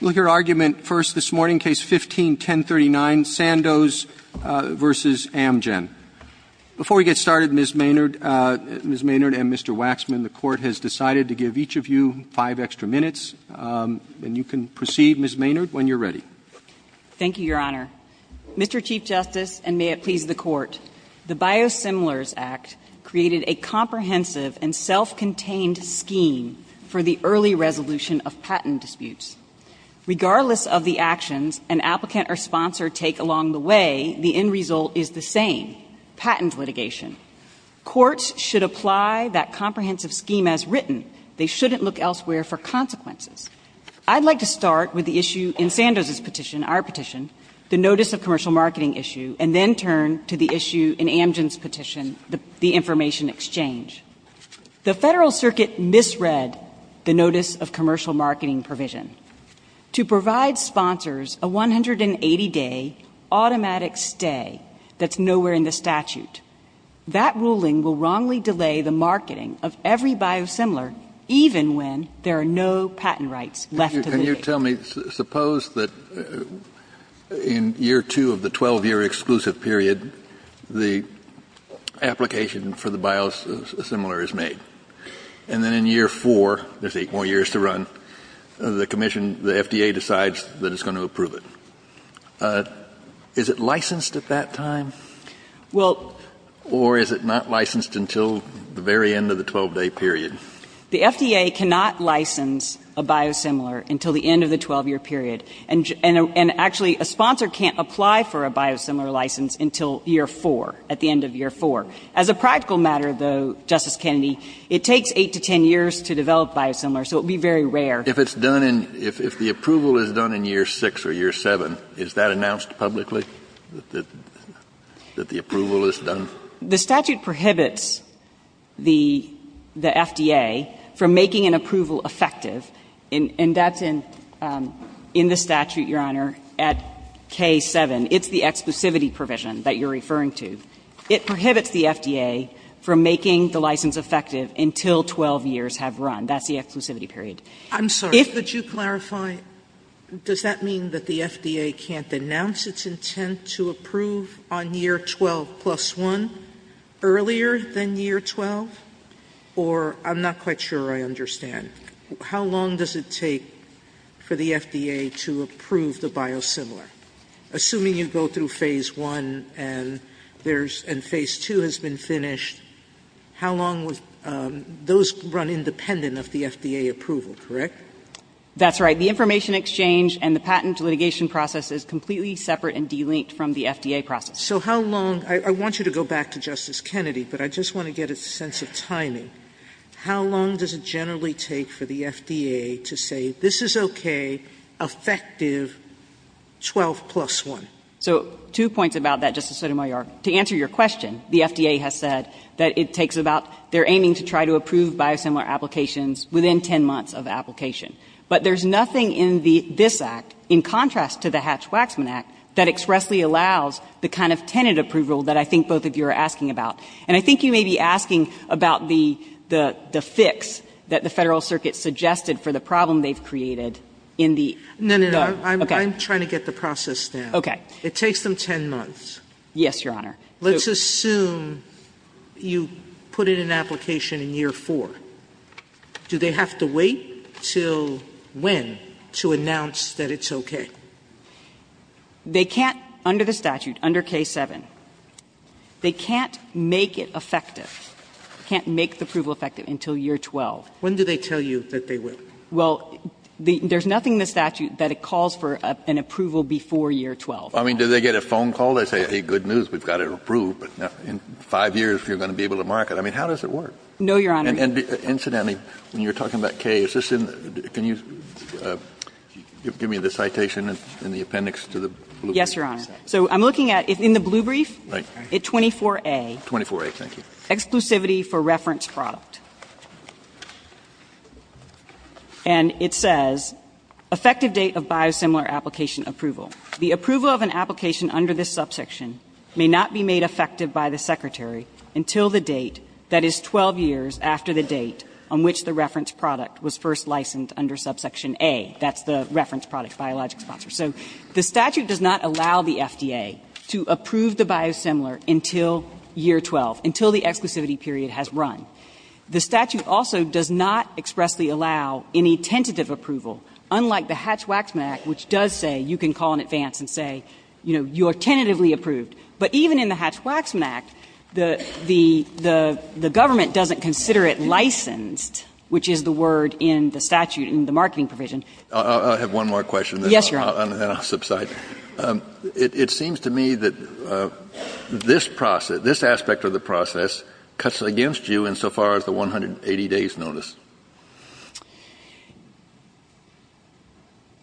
Before we get started, Ms. Maynard and Mr. Waxman, the Court has decided to give each of you five extra minutes, and you can proceed, Ms. Maynard, when you're ready. Thank you, Your Honor. Mr. Chief Justice, and may it please the Court, the Biosimilars Act created a comprehensive and self-contained scheme for the early resolution of patent disputes. Regardless of the actions an applicant or sponsor take along the way, the end result is the same, patent litigation. Courts should apply that comprehensive scheme as written. They shouldn't look elsewhere for consequences. I'd like to start with the issue in Sandoz's petition, our petition, the notice of commercial marketing issue, and then turn to the issue in Amgen's petition, the information exchange. The Federal Circuit misread the notice of commercial marketing provision. To provide sponsors a 180-day automatic stay that's nowhere in the statute, that ruling will wrongly delay the marketing of every Biosimilar, even when there are no patent rights left to them. Can you tell me, suppose that in year two of the 12-year exclusive period, the application for the Biosimilar is made, and then in year four, they take more years to run, the FDA decides that it's going to approve it. Is it licensed at that time, or is it not licensed until the very end of the 12-day period? The FDA cannot license a Biosimilar until the end of the 12-year period, and actually, a sponsor can't apply for a Biosimilar license until year four, at the end of year four. As a practical matter, though, Justice Kennedy, it takes 8 to 10 years to develop Biosimilar, so it would be very rare. If the approval is done in year six or year seven, is that announced publicly, that the approval is done? The statute prohibits the FDA from making an approval effective, and that's in the statute, Your Honor, at K-7. It's the exclusivity provision that you're referring to. It prohibits the FDA from making the license effective until 12 years have run. That's the exclusivity period. I'm sorry, would you clarify, does that mean that the FDA can't announce its intent to approve on year 12 plus one earlier than year 12? Or, I'm not quite sure I understand, how long does it take for the FDA to approve the Biosimilar? Assuming you go through phase one and phase two has been finished, those run independent of the FDA approval, correct? That's right. The information exchange and the patent litigation process is completely separate and delinked from the FDA process. I want you to go back to Justice Kennedy, but I just want to get a sense of timing. How long does it generally take for the FDA to say, this is okay, effective, 12 plus one? So, two points about that, Justice Sotomayor. To answer your question, the FDA has said that it takes about, they're aiming to try to approve Biosimilar applications within 10 months of application. But there's nothing in this Act, in contrast to the Hatch-Waxman Act, that expressly allows the kind of tenant approval that I think both of you are asking about. And I think you may be asking about the fix that the Federal Circuit suggested for the problem they've created in the... No, no, no. Okay. I'm trying to get the process down. Okay. It takes them 10 months. Yes, Your Honor. Let's assume you put in an application in year four. Do they have to wait until when to announce that it's okay? They can't, under the statute, under K-7, they can't make it effective. Can't make the approval effective until year 12. When did they tell you that they would? Well, there's nothing in the statute that it calls for an approval before year 12. I mean, do they get a phone call? They say, hey, good news, we've got it approved. In five years, you're going to be able to mark it. I mean, how does it work? No, Your Honor. Incidentally, when you're talking about K, can you give me the citation and the appendix to the blue brief? Yes, Your Honor. So I'm looking at, in the blue brief, it's 24A. 24A, thank you. Exclusivity for reference product. And it says, effective date of biosimilar application approval. The approval of an application under this subsection may not be made effective by the Secretary until the date, that is 12 years after the date on which the reference product was first licensed under subsection A. That's the reference product biologic sponsor. So the statute does not allow the FDA to approve the biosimilar until year 12, until the exclusivity period has run. The statute also does not expressly allow any tentative approval, unlike the Hatch-Wax-Mac, which does say you can call in advance and say, you know, you're tentatively approved. But even in the Hatch-Wax-Mac, the government doesn't consider it licensed, which is the word in the statute in the marketing provision. I have one more question. Yes, Your Honor. And then I'll subside. It seems to me that this aspect of the process cuts against you insofar as the 180 days notice.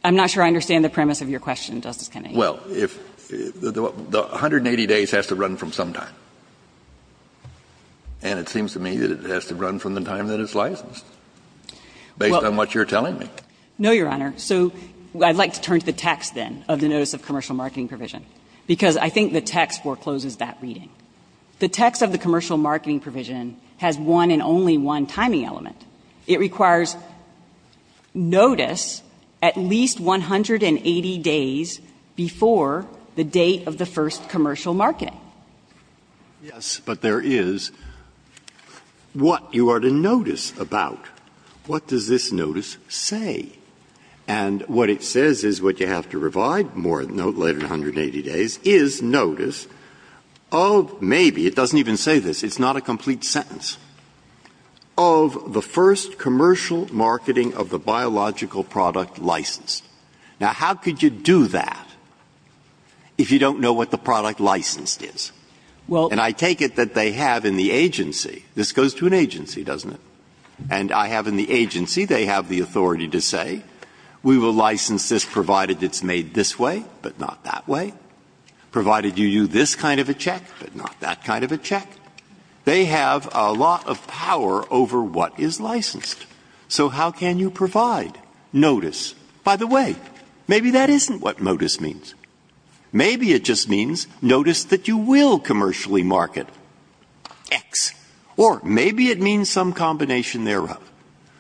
I'm not sure I understand the premise of your question, Justice Kennedy. Well, the 180 days has to run from some time. And it seems to me that it has to run from the time that it's licensed, based on what you're telling me. No, Your Honor. So I'd like to turn to the text, then, of the notice of commercial marketing provision, because I think the text forecloses that reading. The text of the commercial marketing provision has one and only one timing element. It requires notice at least 180 days before the date of the first commercial market. Yes, but there is what you are to notice about. What does this notice say? And what it says is what you have to provide more note later than 180 days is notice of maybe, it doesn't even say this, it's not a complete sentence, of the first commercial marketing of the biological product licensed. Now, how could you do that if you don't know what the product licensed is? And I take it that they have in the agency. This goes to an agency, doesn't it? And I have in the agency, they have the authority to say, we will license this provided it's made this way, but not that way. Provided you do this kind of a check, but not that kind of a check. They have a lot of power over what is licensed. So how can you provide notice? By the way, maybe that isn't what notice means. Maybe it just means notice that you will commercially market X. Or maybe it means some combination thereof.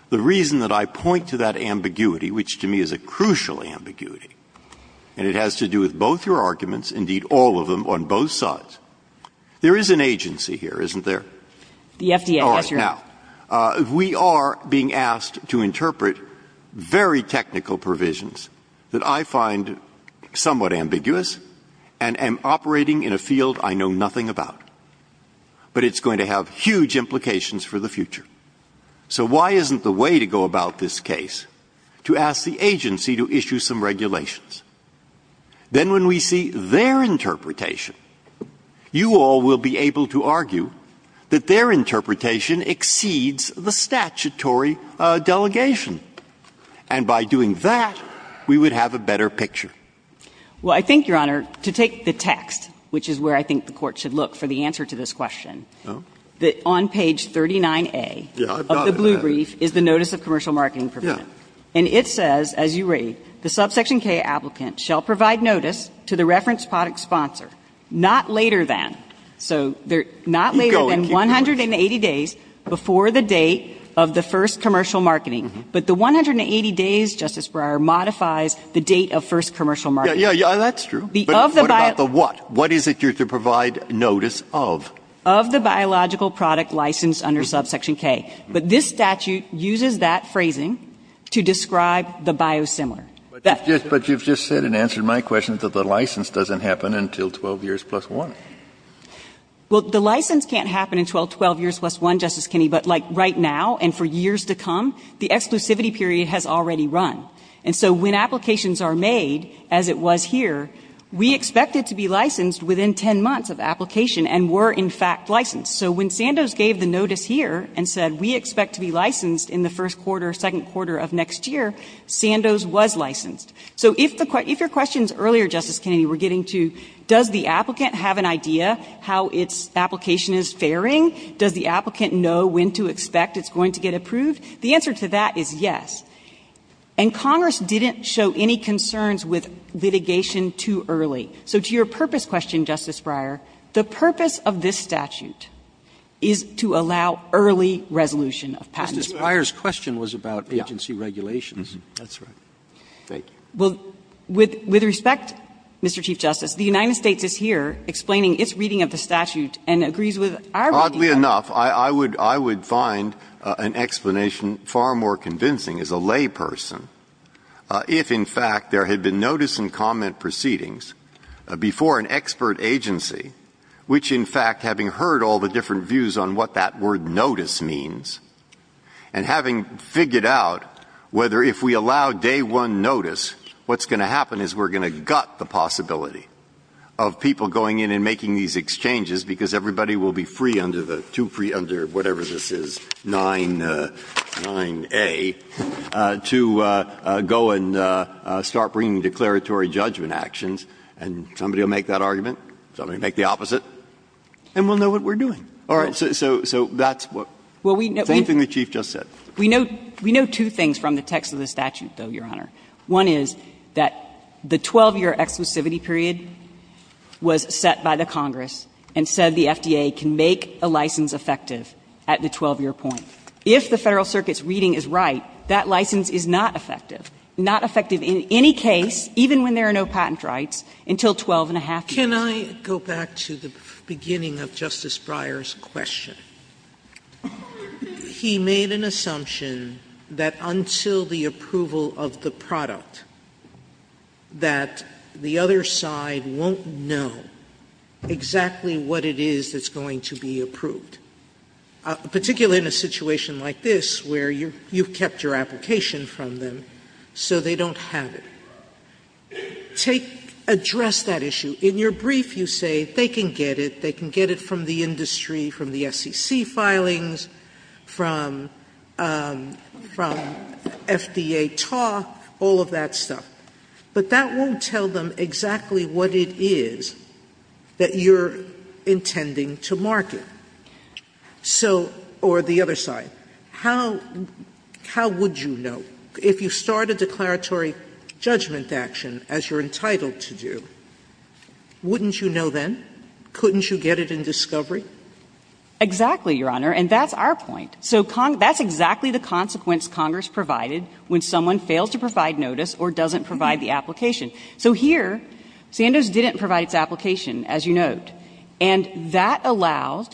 The reason that I point to that ambiguity, which to me is a crucial ambiguity, and it has to do with both your arguments, indeed all of them on both sides, there is an agency here, isn't there? All right, now, we are being asked to interpret very technical provisions that I find somewhat ambiguous and operating in a field I know nothing about. But it's going to have huge implications for the future. So why isn't the way to go about this case to ask the agency to issue some regulations? Then when we see their interpretation, you all will be able to argue that their interpretation exceeds the statutory delegation. And by doing that, we would have a better picture. Well, I think, Your Honor, to take the text, which is where I think the court should look for the answer to this question, on page 39A of the blue brief is the Notice of Commercial Marketing Provision. And it says, as you raised, the subsection K applicant shall provide notice to the reference product sponsor, not later than 180 days before the date of the first commercial marketing. But the 180 days, Justice Breyer, modifies the date of first commercial marketing. Yeah, that's true. But what? What is it due to provide notice of? Of the biological product licensed under subsection K. But this statute uses that phrasing to describe the biosimilar. But you've just said and answered my question that the license doesn't happen until 12 years plus one. Well, the license can't happen until 12 years plus one, Justice Kennedy. But, like, right now and for years to come, the exclusivity period has already run. And so when applications are made, as it was here, we expect it to be licensed within 10 months of application and were, in fact, licensed. So when Sandoz gave the notice here and said, we expect to be licensed in the first quarter or second quarter of next year, Sandoz was licensed. So if your question is earlier, Justice Kennedy, we're getting to, does the applicant have an idea how its application is faring? Does the applicant know when to expect it's going to get approved? The answer to that is yes. And Congress didn't show any concerns with litigation too early. So to your purpose question, Justice Breyer, the purpose of this statute is to allow early resolution of passage. Justice Breyer's question was about agency regulations. That's right. Well, with respect, Mr. Chief Justice, the United States is here explaining its reading of the statute and agrees with our reading. Enough. I would find an explanation far more convincing as a layperson if, in fact, there had been notice and comment proceedings before an expert agency, which, in fact, having heard all the different views on what that word notice means and having figured out whether if we allow day one notice, what's going to happen is we're going to gut the possibility of people going in and making these exchanges because everybody will be too free under whatever this is, 9A, to go and start bringing declaratory judgment actions. And somebody will make that argument. Somebody will make the opposite. And we'll know what we're doing. All right. So that's the only thing the Chief Justice said. We know two things from the text of the statute, though, Your Honor. One is that the 12-year exclusivity period was set by the Congress and said the FDA can make a license effective at the 12-year point. If the Federal Circuit's reading is right, that license is not effective, not effective in any case, even when there are no patent rights, until 12-and-a-half years. Can I go back to the beginning of Justice Breyer's question? He made an assumption that until the approval of the product, that the other side won't know exactly what it is that's going to be approved, particularly in a situation like this where you've kept your application from them, so they don't have it. Address that issue. In your brief, you say they can get it. They can get it from the industry, from the FCC filings, from FDA talk, all of that stuff. But that won't tell them exactly what it is that you're intending to market. Or the other side, how would you know? If you start a declaratory judgment action, as you're entitled to do, wouldn't you know then? Couldn't you get it in discovery? Exactly, Your Honor, and that's our point. So that's exactly the consequence Congress provided when someone failed to provide notice or doesn't provide the application. So here, Sanders didn't provide its application, as you note. And that allows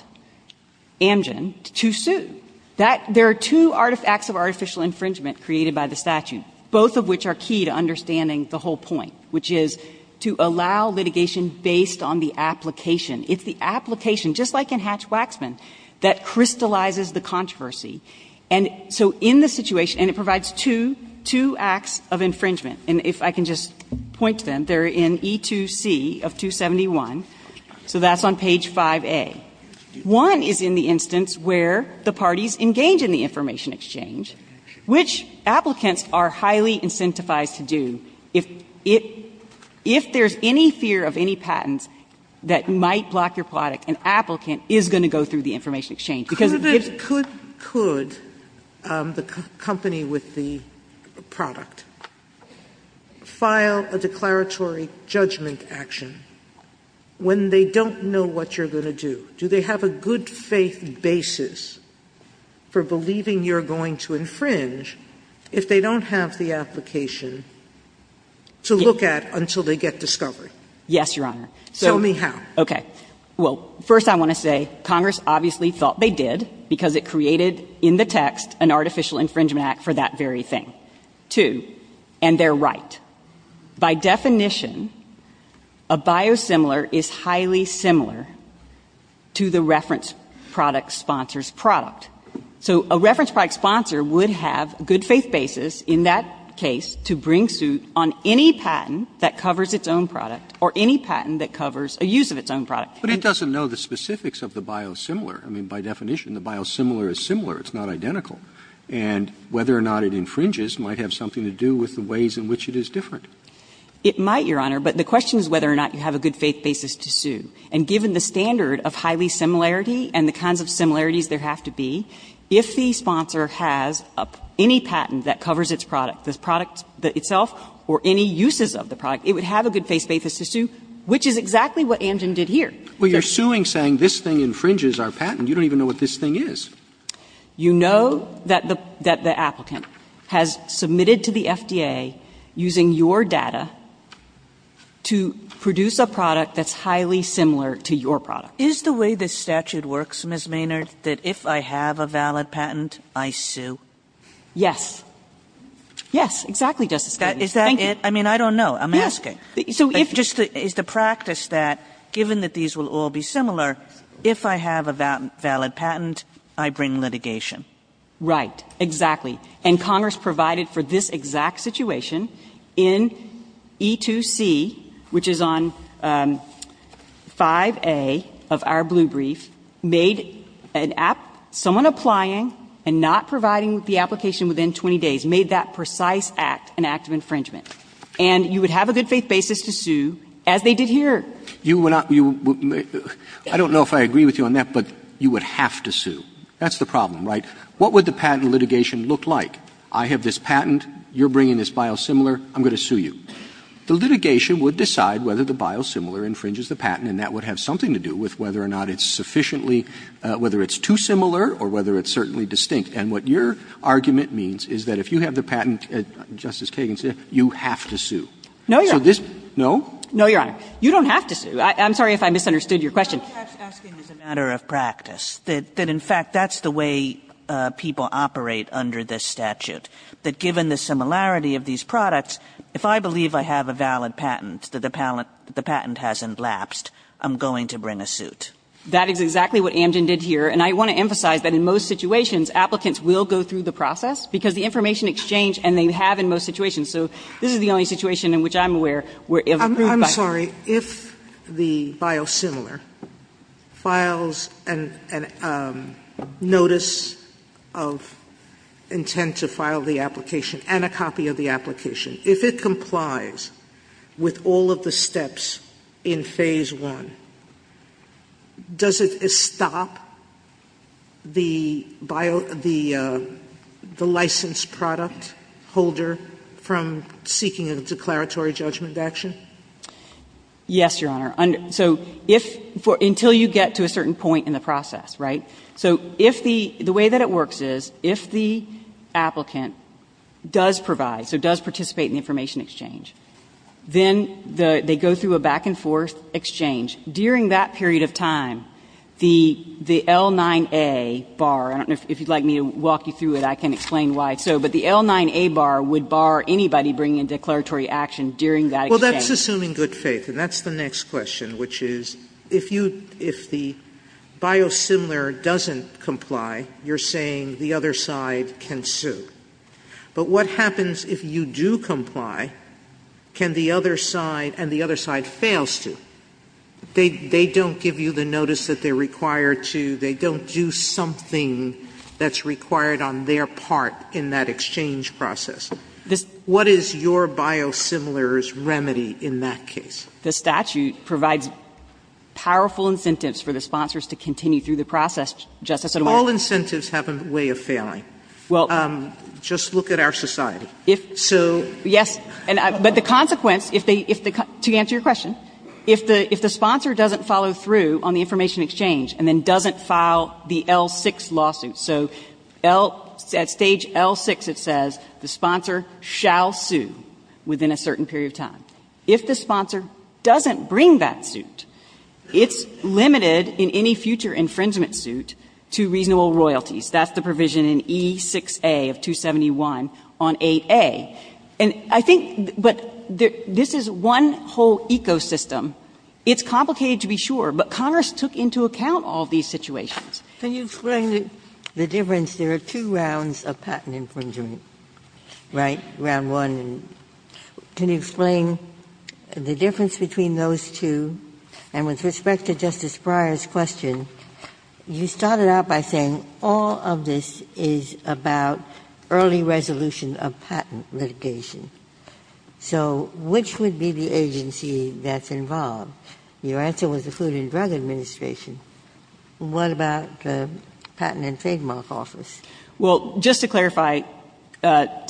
Amgen to sue. There are two acts of artificial infringement created by the statute, both of which are key to understanding the whole point, which is to allow litigation based on the application. It's the application, just like in Hatch-Waxman, that crystallizes the controversy. And so in the situation, and it provides two acts of infringement, and if I can just point to them, they're in E2C of 271, so that's on page 5A. One is in the instance where the parties engage in the information exchange, which applicants are highly incentivized to do. If there's any fear of any patents that might block your product, an applicant is going to go through the information exchange. Could the company with the product file a declaratory judgment action when they don't know what you're going to do? Do they have a good faith basis for believing you're going to infringe if they don't have the application to look at until they get discovered? Yes, Your Honor. Tell me how. Okay. Well, first I want to say Congress obviously thought they did because it created in the text an artificial infringement act for that very thing. Two, and they're right. By definition, a biosimilar is highly similar to the reference product sponsor's product. So a reference product sponsor would have good faith basis in that case to bring suit on any patent that covers its own product or any patent that covers a use of its own product. But it doesn't know the specifics of the biosimilar. I mean, by definition, the biosimilar is similar. It's not identical. And whether or not it infringes might have something to do with the ways in which it is different. It might, Your Honor. But the question is whether or not you have a good faith basis to sue. And given the standard of highly similarity and the kinds of similarities there have to be, if the sponsor has any patent that covers its product, the product itself, or any uses of the product, it would have a good faith basis to sue, which is exactly what Anjan did here. Well, you're suing saying this thing infringes our patent. You don't even know what this thing is. You know that the applicant has submitted to the FDA, using your data, to produce a product that's highly similar to your product. Is the way this statute works, Ms. Maynard, that if I have a valid patent, I sue? Yes. Yes, exactly. Is that it? I mean, I don't know. I'm asking. Is the practice that, given that these will all be similar, if I have a valid patent, I bring litigation? Right. Exactly. And Congress provided for this exact situation in E2C, which is on 5A of our blue brief, made someone applying and not providing the application within 20 days, made that precise act an act of infringement. And you would have a good faith basis to sue, as they did here. I don't know if I agree with you on that, but you would have to sue. That's the problem, right? What would the patent litigation look like? I have this patent. You're bringing this biosimilar. I'm going to sue you. The litigation would decide whether the biosimilar infringes the patent, and that would have something to do with whether or not it's sufficiently, whether it's too similar or whether it's certainly distinct. And what your argument means is that if you have the patent, Justice Kagan said, you have to sue. No, you're right. No? You don't have to sue. I'm sorry if I misunderstood your question. I'm just asking as a matter of practice that, in fact, that's the way people operate under this statute, that given the similarity of these products, if I believe I have a valid patent, that the patent hasn't lapsed, I'm going to bring a suit. That is exactly what Amgen did here. And I want to emphasize that in most situations, applicants will go through the process because the information exchange, and they have in most situations. So this is the only situation in which I'm aware where it was approved by Amgen. I'm sorry. If the biosimilar files a notice of intent to file the application and a copy of the application, if it complies with all of the steps in Phase I, does it stop the licensed product holder from seeking a declaratory judgment of action? Yes, Your Honor. So if — until you get to a certain point in the process, right? So if the — the way that it works is, if the applicant does provide, so does participate in the information exchange, then they go through a back-and-forth exchange. During that period of time, the L9A bar — and if you'd like me to walk you through it, I can explain why. But the L9A bar would bar anybody bringing in declaratory action during that exchange. Well, that's assuming good faith. And that's the next question, which is, if the biosimilar doesn't comply, you're saying the other side can sue. But what happens if you do comply, and the other side fails to? They don't give you the notice that they're required to. They don't do something that's required on their part in that exchange process. What is your biosimilar's remedy in that case? The statute provides powerful incentives for the sponsors to continue through the process. All incentives have a way of failing. Well — Just look at our society. So — Yes. But the consequence, if they — to answer your question, if the sponsor doesn't follow through on the information exchange and then doesn't file the L6 lawsuit, so at stage L6 it says the sponsor shall sue within a certain period of time. If the sponsor doesn't bring that suit, it's limited in any future infringement suit to reasonable royalties. That's the provision in E6A of 271 on 8A. And I think — but this is one whole ecosystem. It's complicated to be sure, but Congress took into account all these situations. Can you explain the difference? There are two rounds of patent infringement, right, round one. Can you explain the difference between those two? And with respect to Justice Breyer's question, you started out by saying all of this is about early resolution of patent litigation. So which would be the agency that's involved? Your answer was the Food and Drug Administration. What about the Patent and Fademark Office? Well, just to clarify to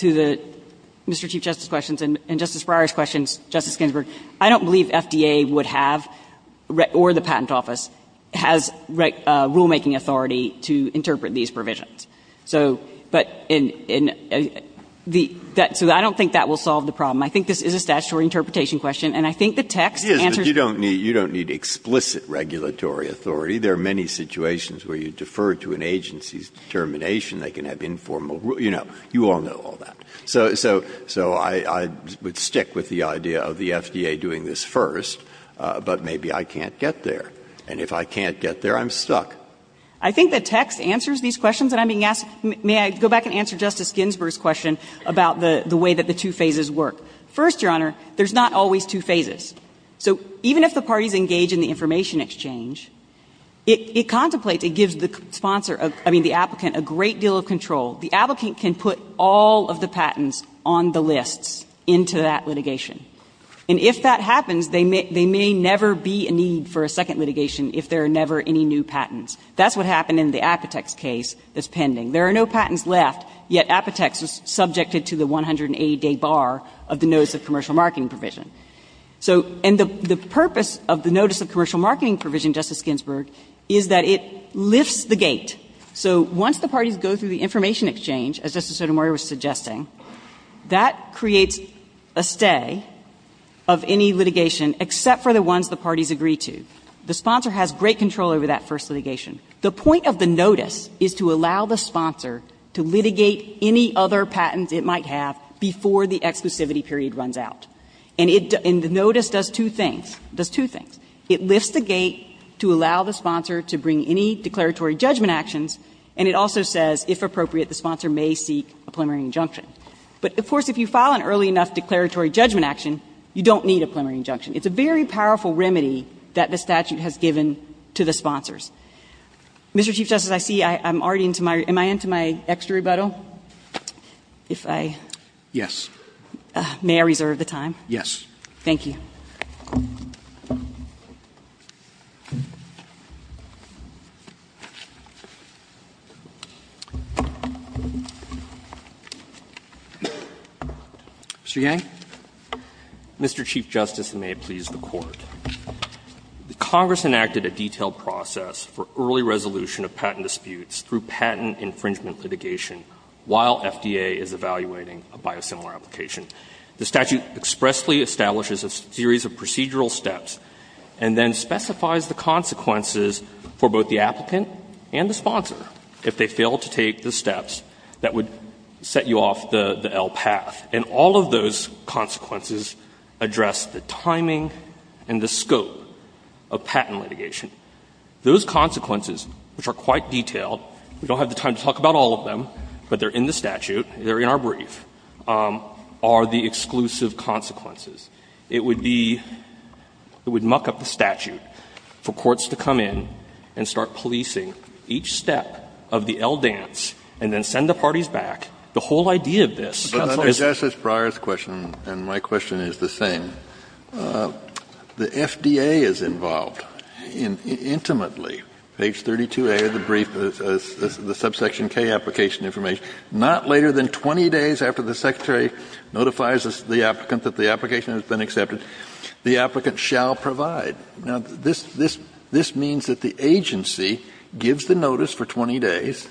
the — Mr. Chief Justice's questions and Justice Breyer's questions, Justice Ginsburg, I don't believe FDA would have, or the Patent Office, has rulemaking authority to interpret these provisions. So — but in the — I don't think that will solve the problem. I think this is a statutory interpretation question, and I think the text answers — Yes, but you don't need explicit regulatory authority. There are many situations where you defer to an agency's determination. They can have informal — you know, you all know all that. So I would stick with the idea of the FDA doing this first, but maybe I can't get there. And if I can't get there, I'm stuck. I think the text answers these questions that I'm being asked. May I go back and answer Justice Ginsburg's question about the way that the two phases work? First, Your Honor, there's not always two phases. So even if the parties engage in the information exchange, it contemplates — it gives the sponsor of — I mean, the applicant a great deal of control. The applicant can put all of the patents on the list into that litigation. And if that happens, they may never be in need for a second litigation if there are never any new patents. That's what happened in the Apotex case that's pending. There are no patents left, yet Apotex is subjected to the 180-day bar of the Notice of Commercial Marketing provision. So — and the purpose of the Notice of Commercial Marketing provision, Justice Ginsburg, is that it lifts the gate. So once the parties go through the information exchange, as Justice Sotomayor was suggesting, that creates a stay of any litigation except for the ones the parties agree to. The sponsor has great control over that first litigation. The point of the notice is to allow the sponsor to litigate any other patents it might have before the exclusivity period runs out. And it — and the notice does two things — does two things. It lifts the gate to allow the sponsor to bring any declaratory judgment actions, and it also says, if appropriate, the sponsor may seek a preliminary injunction. But, of course, if you file an early enough declaratory judgment action, you don't need a preliminary injunction. It's a very powerful remedy that the statute has given to the sponsors. Mr. Chief Justice, I see I'm already into my — am I into my extra rebuttal? If I — Yes. May I reserve the time? Yes. Thank you. Mr. Yang? Mr. Chief Justice, and may it please the Court, Congress enacted a detailed process for early resolution of patent disputes through patent infringement litigation while FDA is evaluating a biosimilar application. The statute expressly establishes a series of procedural steps and then specifies the consequences for both the applicant and the sponsor if they fail to take the steps that would set you off the L path. And all of those consequences address the timing and the scope of patent litigation. Those consequences, which are quite detailed — we don't have the time to talk about all of them, but they're in the statute, they're in our brief — are the exclusive consequences. It would be — it would muck up the statute for courts to come in and start policing each step of the L dance and then send the parties back. The whole idea of this is — Justice Breyer's question and my question is the same. The FDA is involved intimately. Page 32A of the brief is the subsection K application information. Not later than 20 days after the secretary notifies the applicant that the application has been accepted, the applicant shall provide. Now, this means that the agency gives the notice for 20 days,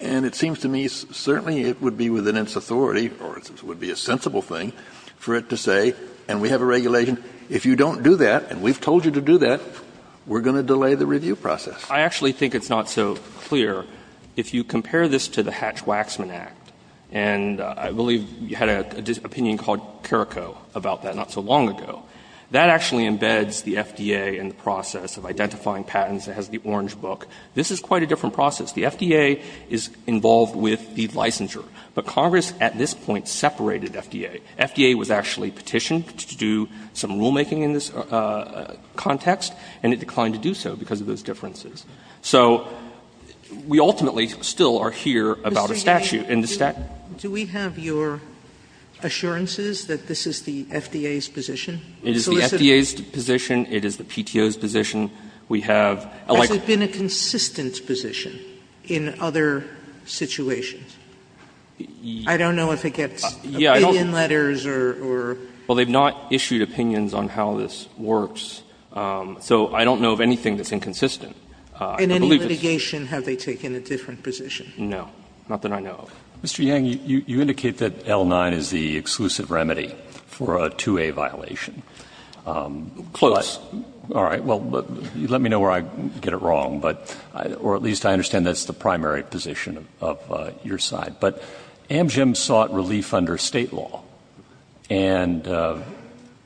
and it seems to me certainly it would be within its authority, or it would be a sensible thing, for it to say, and we have a regulation, if you don't do that, and we've told you to do that, we're going to delay the review process. I actually think it's not so clear. If you compare this to the Hatch-Waxman Act, and I believe you had an opinion called Carrico about that not so long ago, that actually embeds the FDA in the process of identifying patents. It has the orange book. This is quite a different process. The FDA is involved with the licensure, but Congress at this point separated FDA. FDA was actually petitioned to do some rulemaking in this context, and it declined to do so because of those differences. So we ultimately still are here about a statute. Do we have your assurances that this is the FDA's position? It is the FDA's position. It is the PTO's position. It's in a consistent position in other situations. I don't know if it gets opinion letters. Well, they've not issued opinions on how this works, so I don't know of anything that's inconsistent. In any litigation, have they taken a different position? No, nothing I know of. Mr. Yang, you indicate that L9 is the exclusive remedy for a 2A violation. Close. All right, well, let me know where I get it wrong, or at least I understand that's the primary position of your side. But Amgen sought relief under state law, and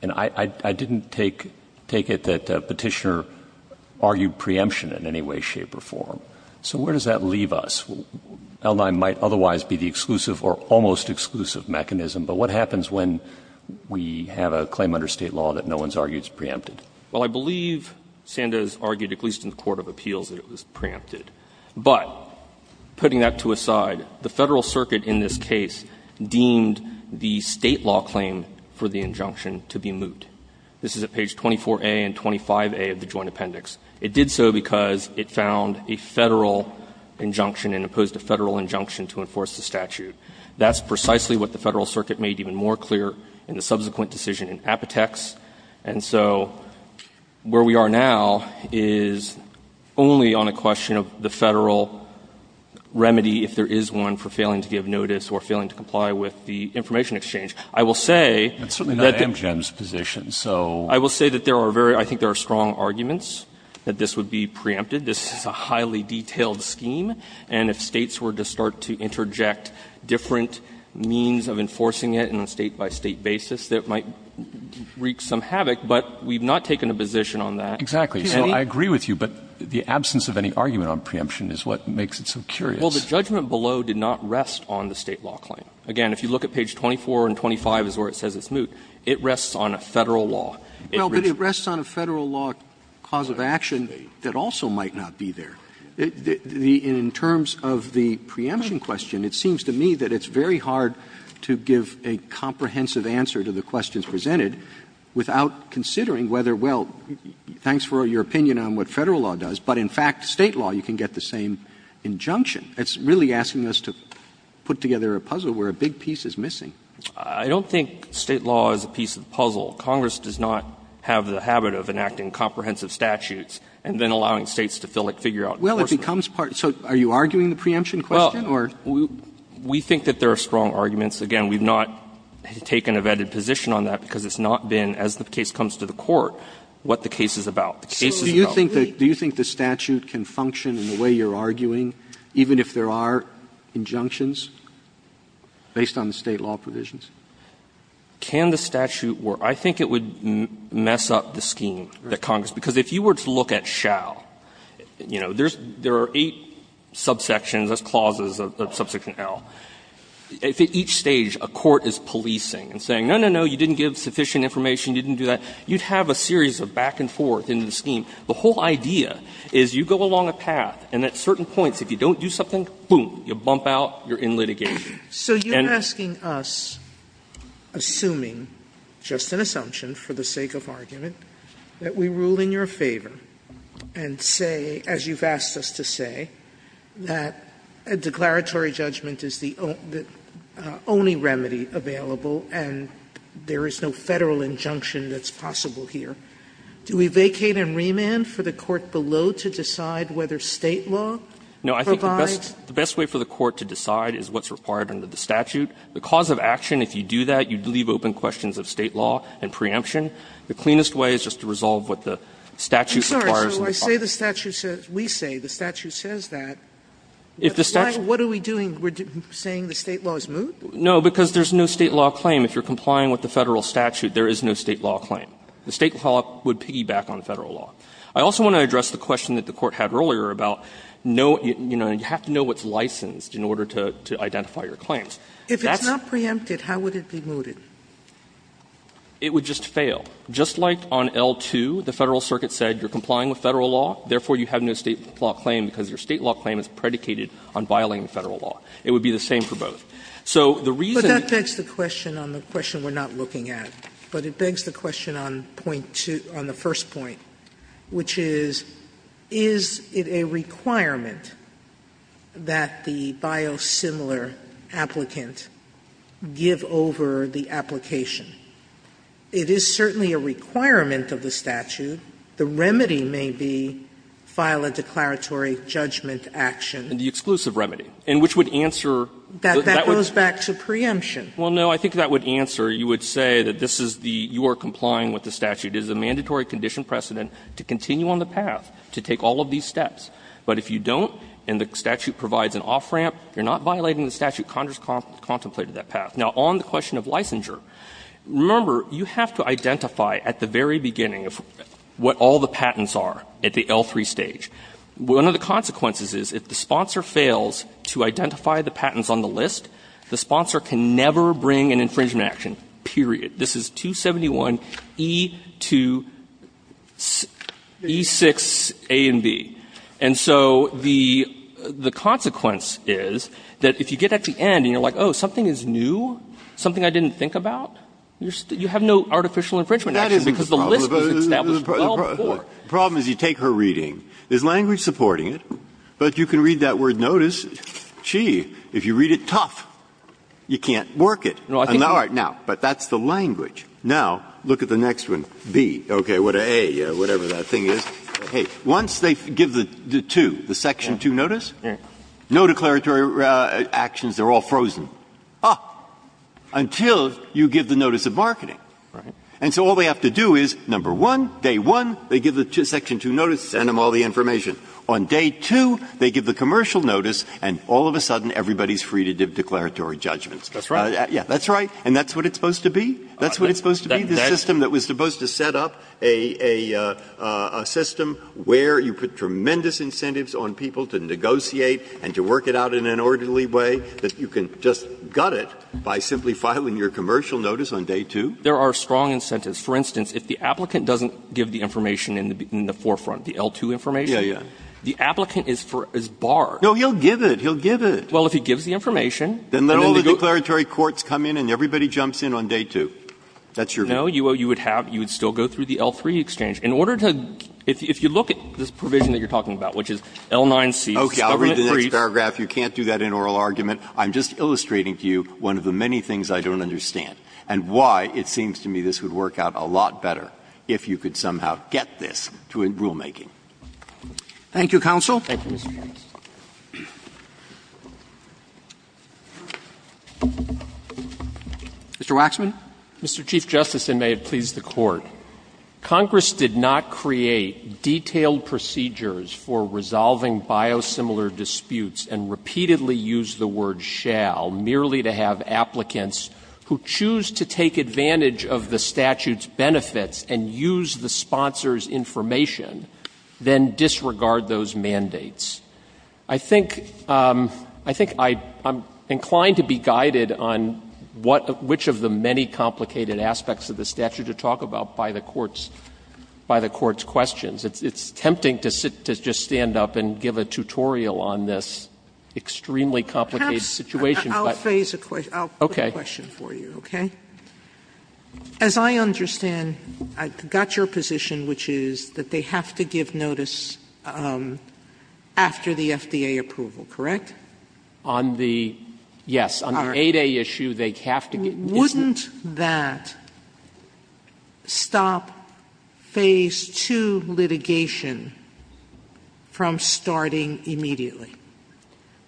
I didn't take it that the petitioner argued preemption in any way, shape, or form. So where does that leave us? L9 might otherwise be the exclusive or almost exclusive mechanism, but what happens when we have a claim under state law that no one's argued is preempted? Well, I believe Sandoz argued, at least in the Court of Appeals, that it was preempted. But putting that to a side, the Federal Circuit in this case deemed the state law claim for the injunction to be moot. This is at page 24A and 25A of the Joint Appendix. It did so because it found a Federal injunction and opposed a Federal injunction to enforce the statute. That's precisely what the Federal Circuit made even more clear in the subsequent decision in Apotex. And so where we are now is only on a question of the Federal remedy if there is one for failing to give notice or failing to comply with the information exchange. I will say that there are strong arguments that this would be preempted. This is a highly detailed scheme, and if states were to start to interject different means of enforcing it on a state-by-state basis, it might wreak some havoc, but we've not taken a position on that. Exactly. I agree with you, but the absence of any argument on preemption is what makes it so curious. Well, the judgment below did not rest on the state law claim. Again, if you look at page 24 and 25 is where it says it's moot, it rests on a Federal law. Well, but it rests on a Federal law cause of action that also might not be there. In terms of the preemption question, it seems to me that it's very hard to give a comprehensive answer to the questions presented without considering whether, well, thanks for your opinion on what Federal law does, but in fact state law you can get the same injunction. It's really asking us to put together a puzzle where a big piece is missing. I don't think state law is a piece of the puzzle. Congress does not have the habit of enacting comprehensive statutes and then allowing states to fill it, figure out. Well, it becomes part. So are you arguing the preemption question? Well, we think that there are strong arguments. Again, we've not taken a vetted position on that because it's not been, as the case comes to the court, what the case is about. Do you think the statute can function in the way you're arguing, even if there are injunctions based on the state law provisions? Can the statute work? I think it would mess up the scheme that Congress, because if you were to look at shall, you know, there are eight subsections, that's clauses of subsection L. At each stage a court is policing and saying, no, no, no, you didn't give sufficient information, you didn't do that. You'd have a series of back and forth in the scheme. The whole idea is you go along a path and at certain points, if you don't do something, boom, you bump out, you're in litigation. So you're asking us, assuming, just an assumption for the sake of argument, that we rule in your favor and say, as you've asked us to say, that a declaratory judgment is the only remedy available and there is no federal injunction that's possible here. Do we vacate and remand for the court below to decide whether state law provides? No, I think the best way for the court to decide is what's required under the statute. The cause of action, if you do that, you'd leave open questions of state law and preemption. The cleanest way is just to resolve what the statute requires. I'm sorry. We say the statute says that. What are we doing? We're saying the state law is moot? No, because there's no state law claim. If you're complying with the federal statute, there is no state law claim. The state law would piggyback on federal law. I also want to address the question that the court had earlier about, you have to know what's licensed in order to identify your claims. If it's not preempted, how would it be mooted? It would just fail. Just like on L-2, the federal circuit said you're complying with federal law, therefore you have no state law claim because your state law claim is predicated on violating federal law. It would be the same for both. But that begs the question on the question we're not looking at. But it begs the question on the first point, which is, is it a requirement that the biosimilar applicant give over the application? It is certainly a requirement of the statute. The remedy may be file a declaratory judgment action. The exclusive remedy, and which would answer... That goes back to preemption. Well, no, I think that would answer, you would say that you are complying with the statute. It is a mandatory condition precedent to continue on the path to take all of these steps. But if you don't and the statute provides an off-ramp, you're not violating the statute. Congress contemplated that path. Now, on the question of licensure, remember you have to identify at the very beginning what all the patents are at the L-3 stage. One of the consequences is if the sponsor fails to identify the patents on the list, the sponsor can never bring an infringement action, period. This is 271 E-6 A and B. And so the consequence is that if you get at the end and you're like, oh, something is new, something I didn't think about, you have no artificial infringement action because the list was established. The problem is you take her reading. There's language supporting it, but you can read that word notice. Gee, if you read it tough, you can't work it. But that's the language. Now, look at the next one, B. Okay, A, whatever that thing is. Okay, once they give the 2, the Section 2 notice, no declaratory actions, they're all frozen. Ah, until you give the notice of marketing. And so all they have to do is, number 1, day 1, they give the Section 2 notice, send them all the information. On day 2, they give the commercial notice, and all of a sudden, everybody's free to give declaratory judgments. That's right. Yeah, that's right, and that's what it's supposed to be. That's what it's supposed to be, Is there a system that was supposed to set up a system where you put tremendous incentives on people to negotiate and to work it out in an orderly way that you can just gut it by simply filing your commercial notice on day 2? There are strong incentives. For instance, if the applicant doesn't give the information in the forefront, the L2 information, the applicant is barred. No, he'll give it. He'll give it. Well, if he gives the information... Then all the declaratory courts come in and everybody jumps in on day 2. That's your view? No, you would still go through the L3 exchange. In order to... If you look at this provision that you're talking about, which is L9C... Okay, I'll read the next paragraph. You can't do that in oral argument. I'm just illustrating to you one of the many things I don't understand and why it seems to me this would work out a lot better if you could somehow get this to rulemaking. Thank you, Counsel. Thank you, Mr. Jensen. Mr. Waxman? Mr. Chief Justice, and may it please the Court, Congress did not create detailed procedures for resolving biosimilar disputes and repeatedly use the word shall merely to have applicants who choose to take advantage of the statute's benefits and use the sponsor's information then disregard those mandates. I think I'm inclined to be guided on which of the many complicated aspects of the statute to talk about by the Court's questions. It's tempting to just stand up and give a tutorial on this extremely complicated situation. Perhaps I'll phase the question. I'll pose the question for you, okay? As I understand, I've got your position, which is that they have to give notice after the FDA approval, correct? Yes. On the 8A issue, they have to give notice. Wouldn't that stop Phase 2 litigation from starting immediately?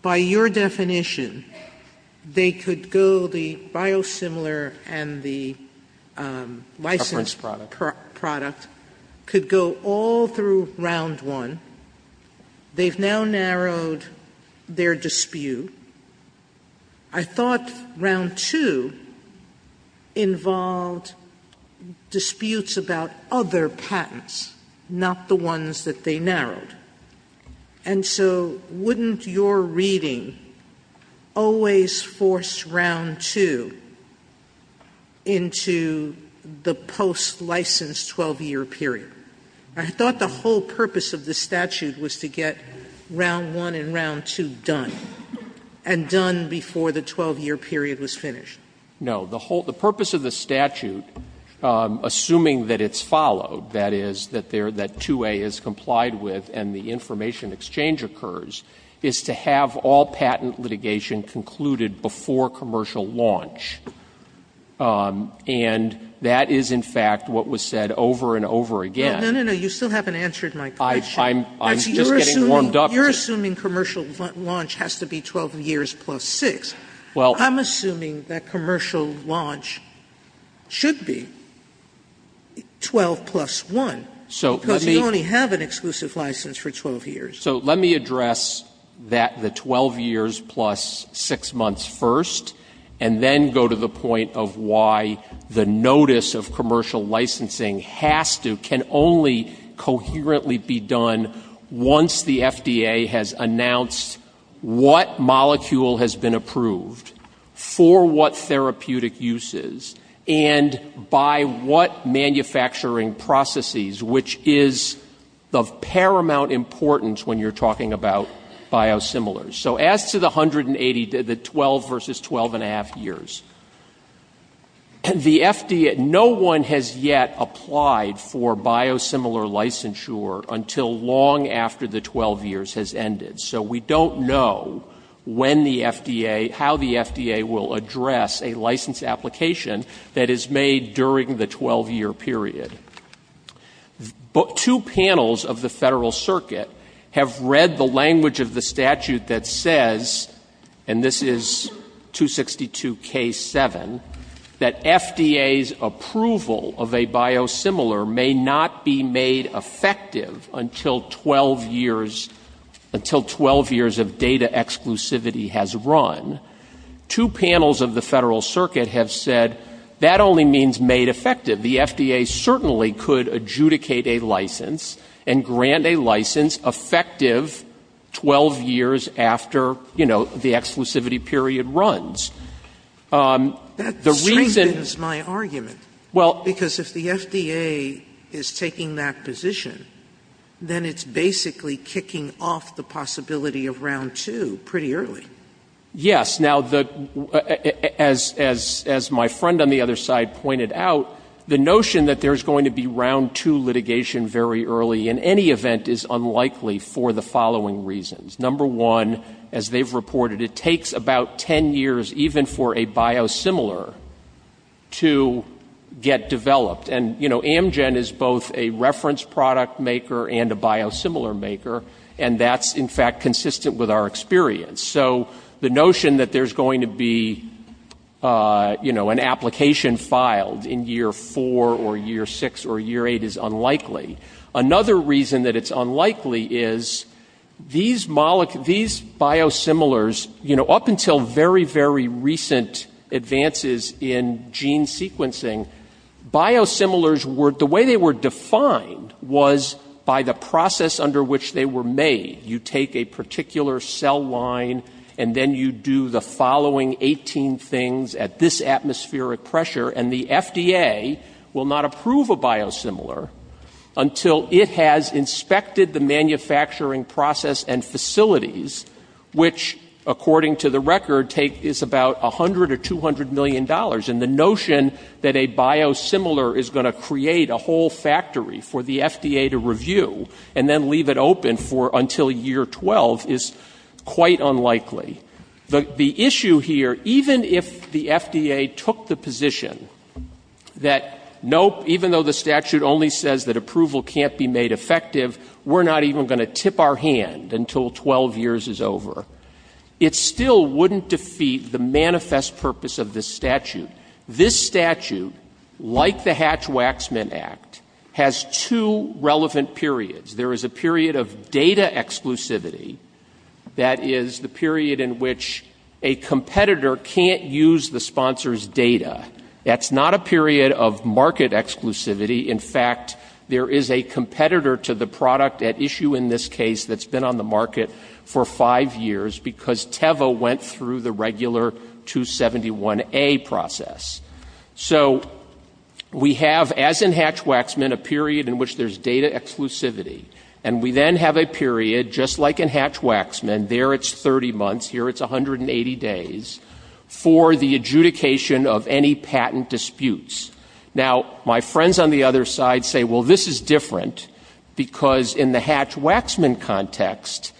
By your definition, they could go the biosimilar and the licensed product could go all through Round 1. They've now narrowed their dispute. I thought Round 2 involved disputes about other patents, not the ones that they narrowed. And so wouldn't your reading always force Round 2 into the post-licensed 12-year period? I thought the whole purpose of the statute was to get Round 1 and Round 2 done and done before the 12-year period was finished. No. The purpose of the statute, assuming that it's followed, that is, that 2A is complied with and the information exchange occurs, is to have all patent litigation concluded before commercial launch. And that is, in fact, what was said over and over again. No, no, no. You still haven't answered my question. I'm still getting warmed up. You're assuming commercial launch has to be 12 years plus 6. I'm assuming that commercial launch should be 12 plus 1 because you only have an exclusive license for 12 years. So let me address the 12 years plus 6 months first and then go to the point of why the notice of commercial licensing has to, can only coherently be done once the FDA has announced what molecule has been approved for what therapeutic uses and by what manufacturing processes, which is of paramount importance when you're talking about biosimilars. So as to the 180, the 12 versus 12.5 years, the FDA, no one has yet applied for biosimilar licensure until long after the 12 years has ended. So we don't know when the FDA, how the FDA will address a license application that is made during the 12-year period. Two panels of the Federal Circuit have read the language of the statute that says, and this is 262K7, that FDA's approval of a biosimilar may not be made effective until 12 years of data exclusivity has run. Two panels of the Federal Circuit have said that only means made effective. The FDA certainly could adjudicate a license and grant a license effective 12 years after the exclusivity period runs. The reason is my argument. Because if the FDA is taking that position, then it's basically kicking off the possibility of round two pretty early. Yes. Now, as my friend on the other side pointed out, the notion that there's going to be round two litigation very early in any event is unlikely for the following reasons. Number one, as they've reported, it takes about 10 years even for a biosimilar to get developed. And, you know, Amgen is both a reference product maker and a biosimilar maker, and that's, in fact, consistent with our experience. So the notion that there's going to be, you know, an application filed in year four or year six or year eight is unlikely. Another reason that it's unlikely is these biosimilars, you know, up until very, very recent advances in gene sequencing, biosimilars, the way they were defined, was by the process under which they were made. You take a particular cell line, and then you do the following 18 things at this atmospheric pressure, and the FDA will not approve a biosimilar until it has inspected the manufacturing process and facilities, which according to the record is about $100 or $200 million. And the notion that a biosimilar is going to create a whole factory for the FDA to review and then leave it open until year 12 is quite unlikely. The issue here, even if the FDA took the position that, nope, even though the statute only says that approval can't be made effective, we're not even going to tip our hand until 12 years is over, it still wouldn't defeat the manifest purpose of this statute. This statute, like the Hatch-Waxman Act, has two relevant periods. There is a period of data exclusivity, that is the period in which a competitor can't use the sponsor's data. That's not a period of market exclusivity. In fact, there is a competitor to the product at issue in this case that's been on the market for five years because Teva went through the regular 271A process. So we have, as in Hatch-Waxman, a period in which there's data exclusivity. And we then have a period, just like in Hatch-Waxman, there it's 30 months, here it's 180 days, for the adjudication of any patent disputes. Now, my friends on the other side say, well, this is different, because in the Hatch-Waxman context,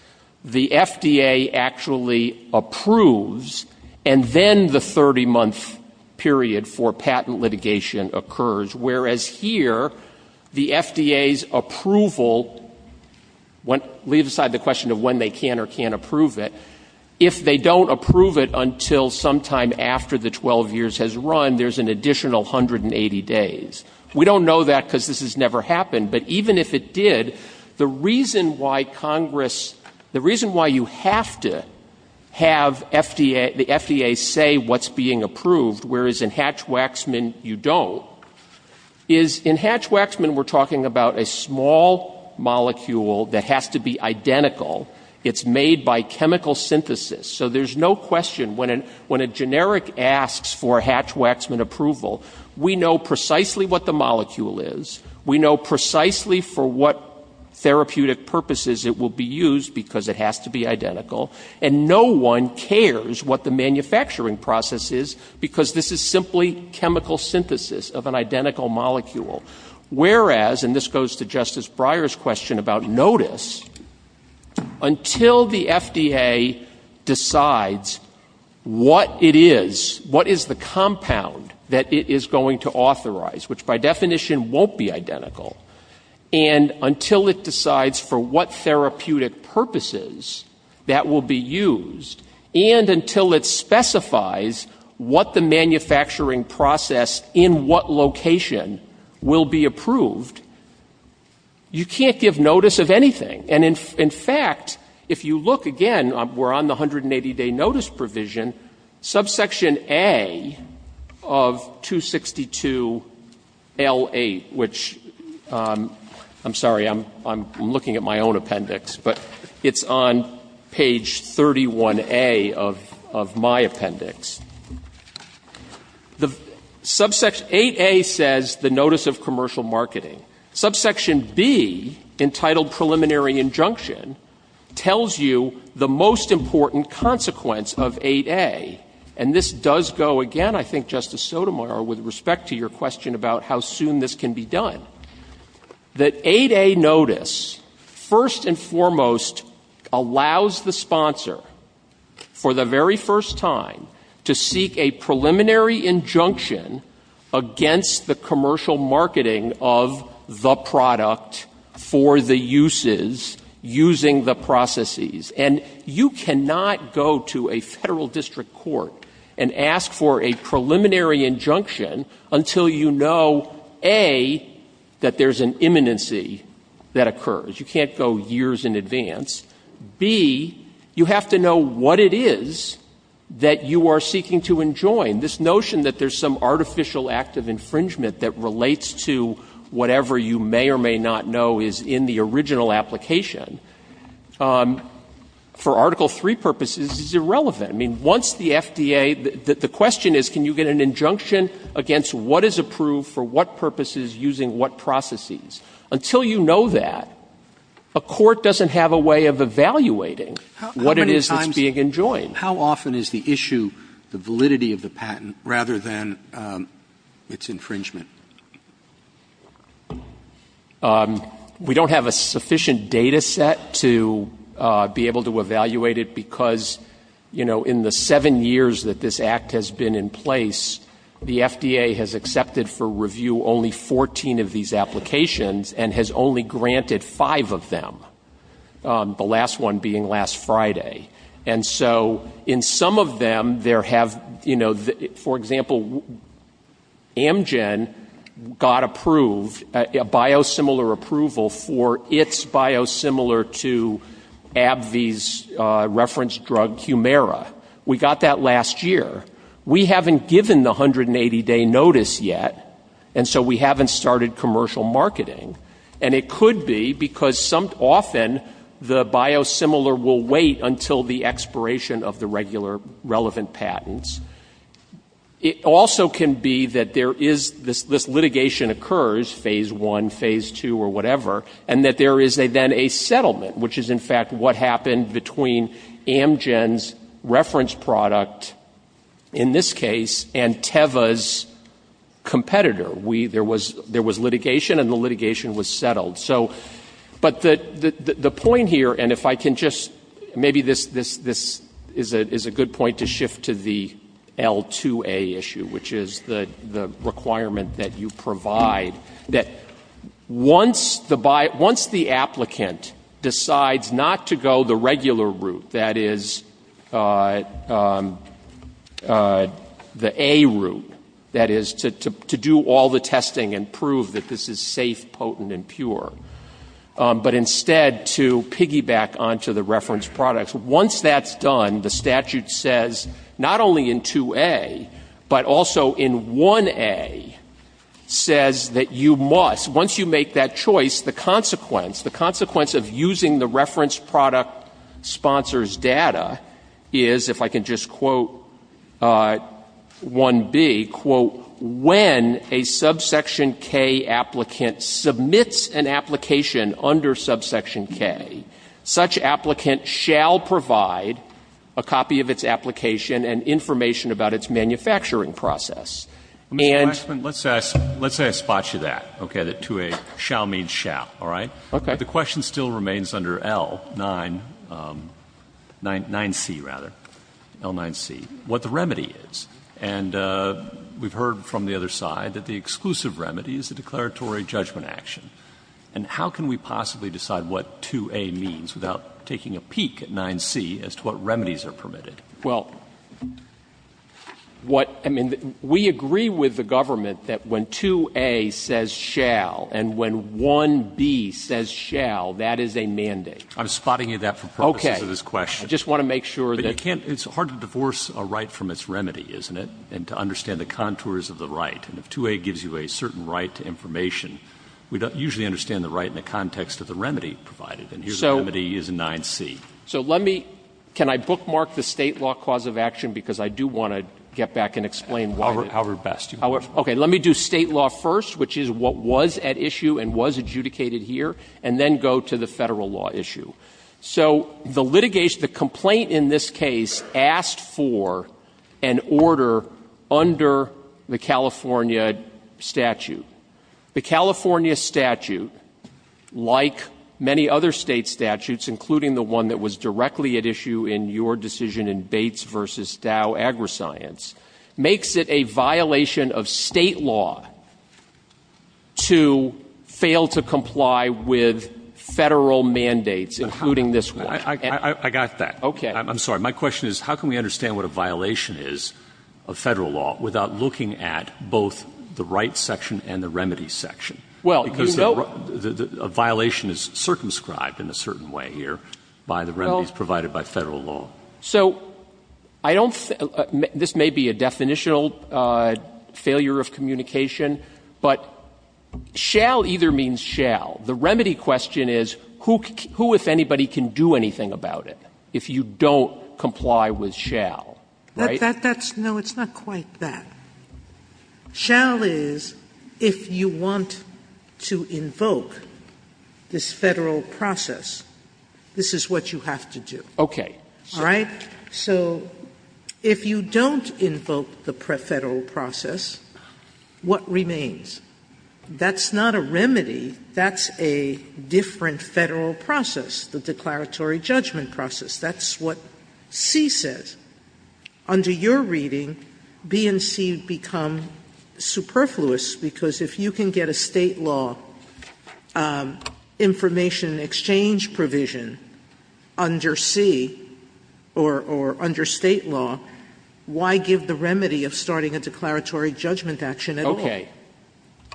the FDA actually approves, and then the 30-month period for patent litigation occurs. Whereas here, the FDA's approval, leave aside the question of when they can or can't approve it, if they don't approve it until sometime after the 12 years has run, there's an additional 180 days. We don't know that because this has never happened, but even if it did, the reason why you have to have the FDA say what's being approved, whereas in Hatch-Waxman you don't, is in Hatch-Waxman, we're talking about a small molecule that has to be identical. It's made by chemical synthesis. So there's no question, when a generic asks for Hatch-Waxman approval, we know precisely what the molecule is. We know precisely for what therapeutic purposes it will be used, because it has to be identical. And no one cares what the manufacturing process is, because this is simply chemical synthesis of an identical molecule. Whereas, and this goes to Justice Breyer's question about notice, until the FDA decides what it is, what is the compound that it is going to authorize, which by definition won't be identical, and until it decides for what therapeutic purposes that will be used, and until it specifies what the manufacturing process in what location will be approved, you can't give notice of anything. And in fact, if you look again, we're on the 180-day notice provision, subsection A of 262L8, which I'm sorry, I'm looking at my own appendix, but it's on page 31A of my appendix. 8A says the notice of commercial marketing. Subsection B, entitled preliminary injunction, tells you the most important consequence of 8A. And this does go again, I think, Justice Sotomayor, with respect to your question about how soon this can be done. That 8A notice, first and foremost, allows the sponsor, for the very first time, to seek a preliminary injunction against the commercial marketing of the product for the uses using the processes. And you cannot go to a federal district court and ask for a preliminary injunction until you know, A, that there's an imminency that occurs. You can't go years in advance. B, you have to know what it is that you are seeking to enjoin. This notion that there's some artificial act of infringement that relates to whatever you may or may not know is in the original application, for Article III purposes, is irrelevant. I mean, once the FDA, the question is, can you get an injunction against what is approved for what purposes using what processes? Until you know that, a court doesn't have a way of evaluating what it is that's being enjoined. How often is the issue the validity of the patent rather than its infringement? We don't have a sufficient data set to be able to evaluate it because, you know, in the seven years that this Act has been in place, the FDA has accepted for review only 14 of these applications and has only granted five of them, the last one being last Friday. And so in some of them there have, you know, for example, Amgen got approved, a biosimilar approval for its biosimilar to AbbVie's reference drug Humira. We got that last year. We haven't given the 180-day notice yet, and so we haven't started commercial marketing. And it could be because often the biosimilar will wait until the expiration of the regular relevant patents. It also can be that there is this litigation occurs, phase one, phase two, or whatever, and that there is then a settlement, which is in fact what happened between Amgen's reference product in this case and Teva's competitor. There was litigation, and the litigation was settled. But the point here, and if I can just maybe this is a good point to shift to the L2A issue, which is the requirement that you provide, that once the applicant decides not to go the regular route, that is the A route, that is to do all the testing and prove that this is safe, potent, and pure, but instead to piggyback onto the reference products. Once that's done, the statute says, not only in 2A, but also in 1A, says that you must, once you make that choice, the consequence of using the reference product sponsor's data is, if I can just quote 1B, quote, when a subsection K applicant submits an application under subsection K, such applicant shall provide a copy of its application and information about its manufacturing process. Let's say I spot you that. Okay, the 2A, shall means shall, all right? But the question still remains under L9C, what the remedy is. And we've heard from the other side that the exclusive remedy is a declaratory judgment action. And how can we possibly decide what 2A means without taking a peek at 9C as to what remedies are permitted? Well, what, I mean, we agree with the government that when 2A says shall and when 1B says shall, that is a mandate. I'm spotting you that for purposes of this question. Okay, I just want to make sure that... It's hard to divorce a right from its remedy, isn't it? And to understand the contours of the right. And if 2A gives you a certain right to information, we don't usually understand the right in the context of the remedy provided. And here the remedy is 9C. So let me, can I bookmark the state law cause of action? Because I do want to get back and explain... Our best. Okay, let me do state law first, which is what was at issue and was adjudicated here, and then go to the federal law issue. So the litigation, the complaint in this case asked for an order under the California statute. The California statute, like many other state statutes, including the one that was directly at issue in your decision in Bates v. Dow AgriScience, makes it a violation of state law to fail to comply with federal mandates. Including this one. I got that. Okay. I'm sorry. My question is, how can we understand what a violation is of federal law without looking at both the right section and the remedy section? Because a violation is circumscribed in a certain way here by the remedies provided by federal law. So I don't... This may be a definitional failure of communication, but shall either means shall. The remedy question is, who, if anybody, can do anything about it if you don't comply with shall? That's... No, it's not quite that. Shall is, if you want to invoke this federal process, this is what you have to do. Okay. Right? So if you don't invoke the federal process, what remains? That's not a remedy. That's a different federal process, the declaratory judgment process. That's what C says. Under your reading, B and C become superfluous because if you can get a state law information exchange provision under C or under state law, why give the remedy of starting a declaratory judgment action at all? Okay.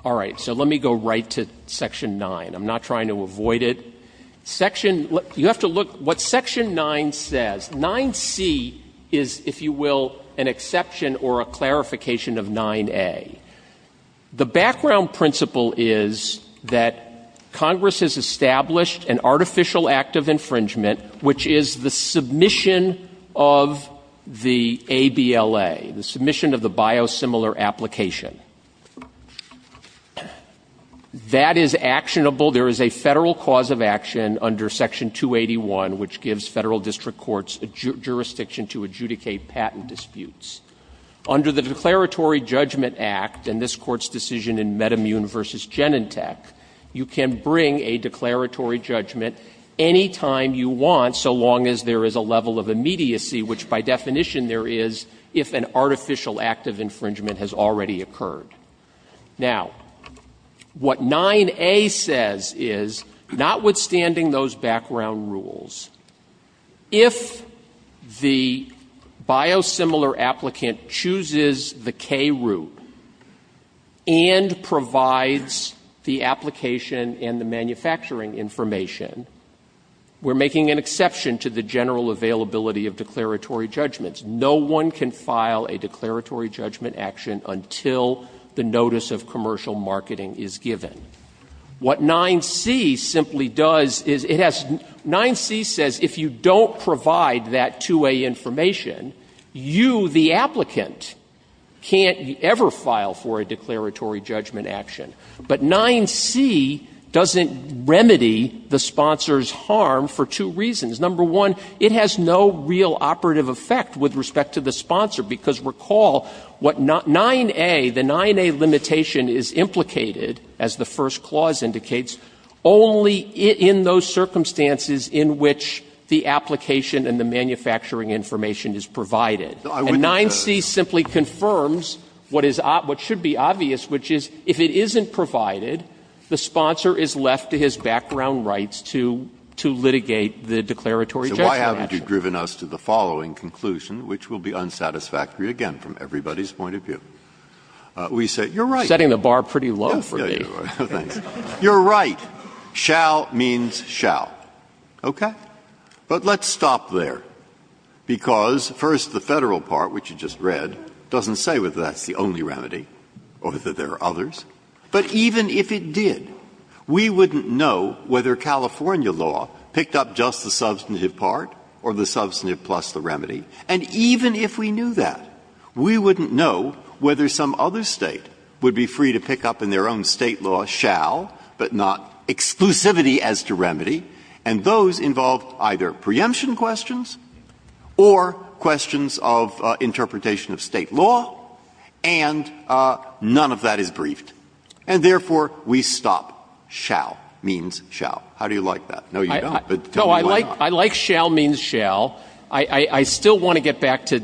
All right. So let me go right to Section 9. I'm not trying to avoid it. Section... You have to look what Section 9 says. 9C is, if you will, an exception or a clarification of 9A. The background principle is that Congress has established an artificial act of infringement, which is the submission of the ABLA, the submission of the biosimilar application. That is actionable. There is a federal cause of action under Section 281, which gives federal district courts jurisdiction to adjudicate patent disputes. Under the Declaratory Judgment Act and this Court's decision in Metamune v. Genentech, you can bring a declaratory judgment any time you want, so long as there is a level of immediacy, which by definition there is if an artificial act of infringement has already occurred. Now, what 9A says is, notwithstanding those background rules, if the biosimilar applicant chooses the K route and provides the application and the manufacturing information, we're making an exception to the general availability of declaratory judgments. No one can file a declaratory judgment action until the notice of commercial marketing is given. What 9C simply does is, 9C says if you don't provide that 2A information, you, the applicant, can't ever file for a declaratory judgment action. But 9C doesn't remedy the sponsor's harm for two reasons. Number one, it has no real operative effect with respect to the sponsor, because recall what 9A, the 9A limitation is implicated, as the first clause indicates, only in those circumstances in which the application and the manufacturing information is provided. And 9C simply confirms what should be obvious, which is if it isn't provided, the sponsor is left to his background rights to litigate the declaratory judgment action. So why haven't you driven us to the following conclusion, which will be unsatisfactory, again, from everybody's point of view? You're right. Setting the bar pretty low for me. You're right. Shall means shall. Okay? But let's stop there, because, first, the federal part, which you just read, doesn't say whether that's the only remedy or that there are others. But even if it did, we wouldn't know whether California law picked up just the substantive part or the substantive plus the remedy. And even if we knew that, we wouldn't know whether some other state would be free to pick up in their own state law shall but not exclusivity as to remedy, and those involve either preemption questions or questions of interpretation of state law, and none of that is briefed. And, therefore, we stop. Shall means shall. How do you like that? No, you don't. No, I like shall means shall. I still want to get back to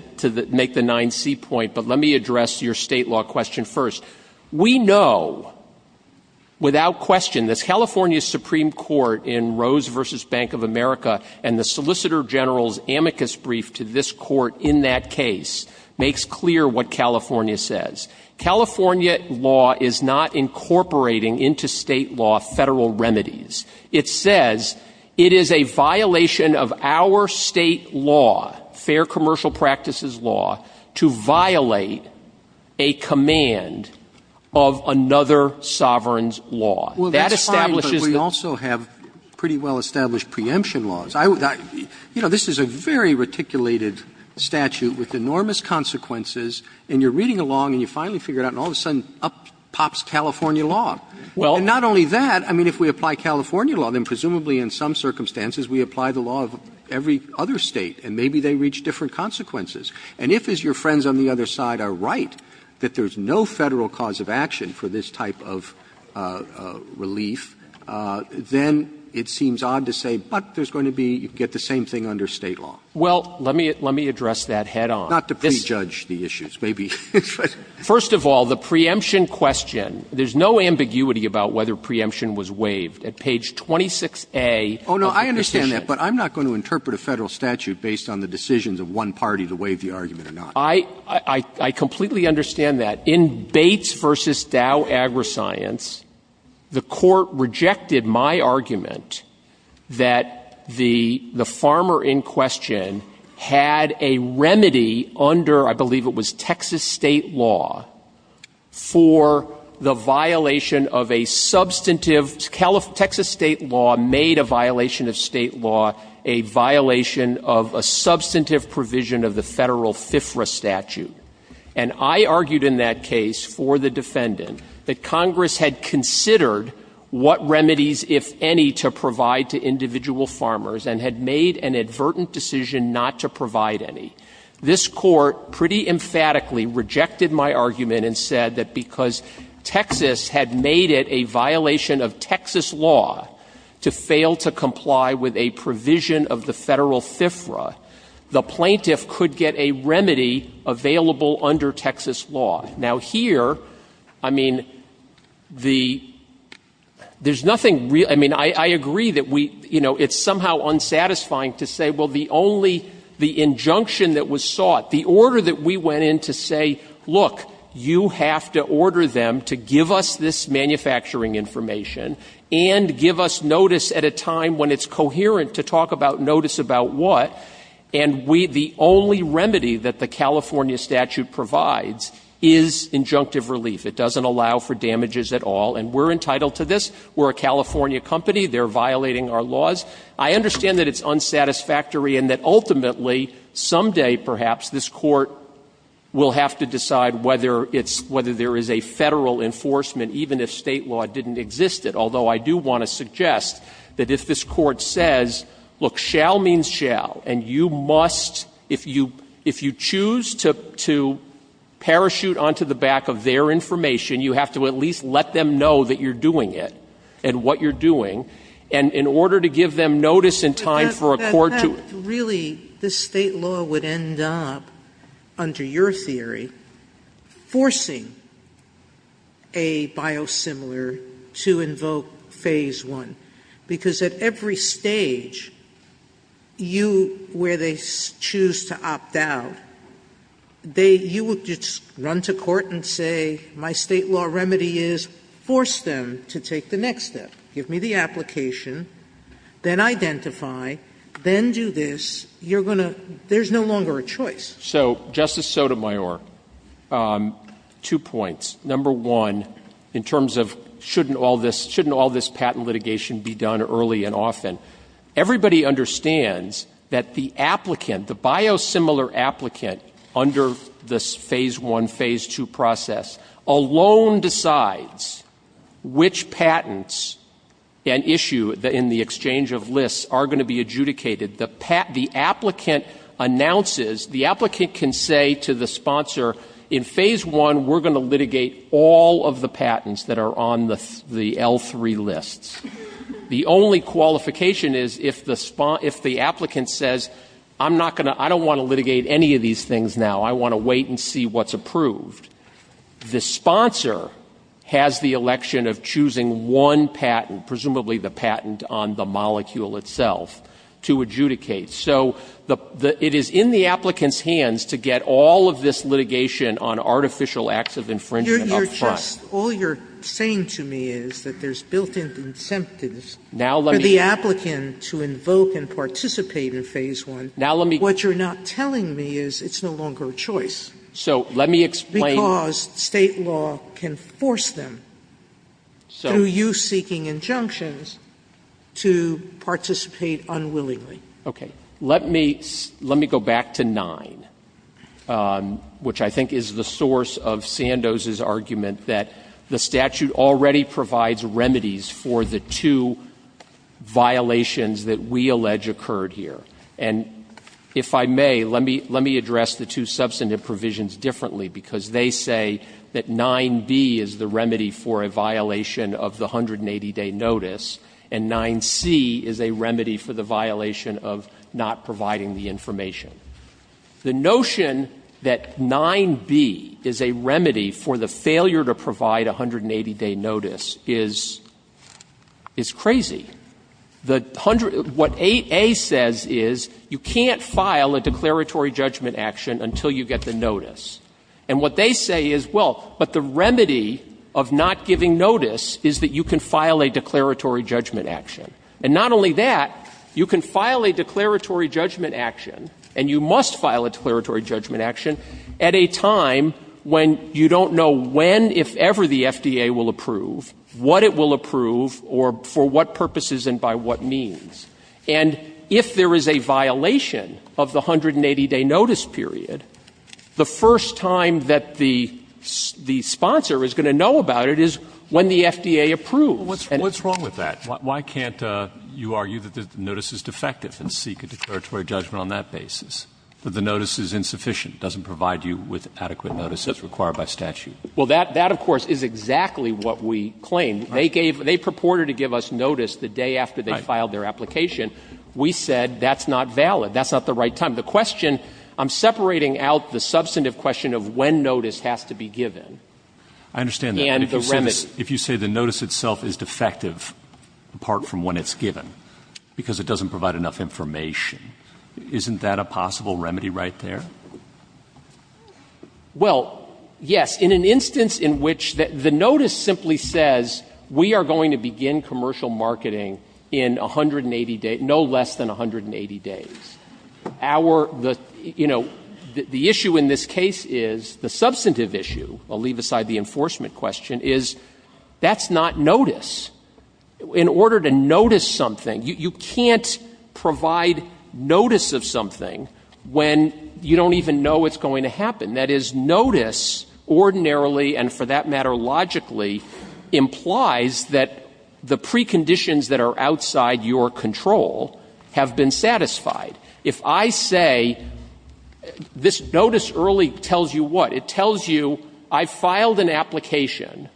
make the 9C point, but let me address your state law question first. We know, without question, this California Supreme Court in Rose v. Bank of America and the Solicitor General's amicus brief to this court in that case makes clear what California says. California law is not incorporating into state law federal remedies. It says it is a violation of our state law, fair commercial practices law, to violate a command of another sovereign's law. Well, that's fine, but we also have pretty well-established preemption laws. You know, this is a very reticulated statute with enormous consequences, and you're reading along, and you finally figure it out, and all of a sudden, up pops California law. And not only that, I mean, if we apply California law, then presumably in some circumstances we apply the law of every other state, and maybe they reach different consequences. And if, as your friends on the other side are right, that there's no federal cause of action for this type of relief, then it seems odd to say, but there's going to be, you get the same thing under state law. Well, let me address that head on. Not to prejudge the issues, maybe. First of all, the preemption question, there's no ambiguity about whether preemption was waived. At page 26A of the decision... Oh, no, I understand that, but I'm not going to interpret a federal statute based on the decisions of one party to waive the argument or not. I completely understand that. In Bates v. Dow AgriScience, the court rejected my argument that the farmer in question had a remedy under, I believe it was, Texas state law for the violation of a substantive... Texas state law made a violation of state law a violation of a substantive provision of the federal FFRA statute. And I argued in that case for the defendant that Congress had considered what remedies, if any, to provide to individual farmers and had made an advertent decision not to provide any. This court pretty emphatically rejected my argument and said that because Texas had made it a violation of Texas law to fail to comply with a provision of the federal FFRA, the plaintiff could get a remedy available under Texas law. Now, here, I mean, the... There's nothing... I mean, I agree that we... You know, it's somehow unsatisfying to say, well, the only... The injunction that was sought, the order that we went in to say, look, you have to order them to give us this manufacturing information and give us notice at a time when it's coherent to talk about notice about what, and we... The only remedy that the California statute provides is injunctive relief. It doesn't allow for damages at all, and we're entitled to this. We're a California company. They're violating our laws. I understand that it's unsatisfactory and that ultimately, someday, perhaps, this court will have to decide whether there is a federal enforcement, even if state law didn't exist yet, although I do want to suggest that if this court says, look, shall means shall, and you must... If you choose to parachute onto the back of their information, you have to at least let them know that you're doing it and what you're doing, and in order to give them notice in time for a court to... Really, this state law would end up, under your theory, forcing a biosimilar to invoke phase one because at every stage, you, where they choose to opt out, they... You would just run to court and say, my state law remedy is force them to take the next step. Give me the application, then identify, then do this. You're going to... There's no longer a choice. So, Justice Sotomayor, two points. Number one, in terms of, shouldn't all this patent litigation be done early and often? Everybody understands that the applicant, the biosimilar applicant, under this phase one, phase two process, alone decides which patents and issue in the exchange of lists are going to be adjudicated. The applicant announces, the applicant can say to the sponsor, in phase one, we're going to litigate all of the patents that are on the L3 lists. The only qualification is if the applicant says, I don't want to litigate any of these things now. I want to wait and see what's approved. The sponsor has the election of choosing one patent, presumably the patent on the molecule itself, to adjudicate. So, it is in the applicant's hands to get all of this litigation on artificial acts of infringement up front. All you're saying to me is that there's built-in incentives for the applicant to invoke and participate in phase one. What you're not telling me is it's no longer a choice. So, let me explain... Because state law can force them, through you seeking injunctions, to participate unwillingly. Okay. Let me go back to nine, which I think is the source of Sandoz's argument that the statute already provides remedies for the two violations that we allege occurred here. And, if I may, let me address the two substantive provisions differently, because they say that 9b is the remedy for a violation of the 180-day notice, and 9c is a remedy for the violation of not providing the information. The notion that 9b is a remedy for the failure to provide a 180-day notice is crazy. What 8a says is you can't file a declaratory judgment action until you get the notice. And what they say is, well, but the remedy of not giving notice is that you can file a declaratory judgment action. And not only that, you can file a declaratory judgment action, and you must file a declaratory judgment action, at a time when you don't know when, if ever, the FDA will approve, what it will approve, or for what purposes and by what means. And, if there is a violation of the 180-day notice period, the first time that the sponsor is going to know about it is when the FDA approves. What's wrong with that? Why can't you argue that the notice is defective and seek a declaratory judgment on that basis, that the notice is insufficient, doesn't provide you with adequate notices required by statute? Well, that, of course, is exactly what we claimed. They gave, they purported to give us notice the day after they filed their application. We said, that's not valid. That's not the right time. The question, I'm separating out the substantive question of when notice has to be given. I understand that. And the remedy. If you say the notice itself is defective, apart from when it's given, because it doesn't provide enough information, isn't that a possible remedy right there? Well, yes. In an instance in which the notice simply says, we are going to begin commercial marketing in 180 days, no less than 180 days. Our, the, you know, the issue in this case is, the substantive issue, I'll leave aside the enforcement question, is that's not notice. In order to notice something, you can't provide notice of something when you don't even know it's going to happen. That is, notice, ordinarily, and for that matter, logically, implies that the preconditions that are outside your control have been satisfied. If I say, this notice early tells you what? It tells you, I filed an application,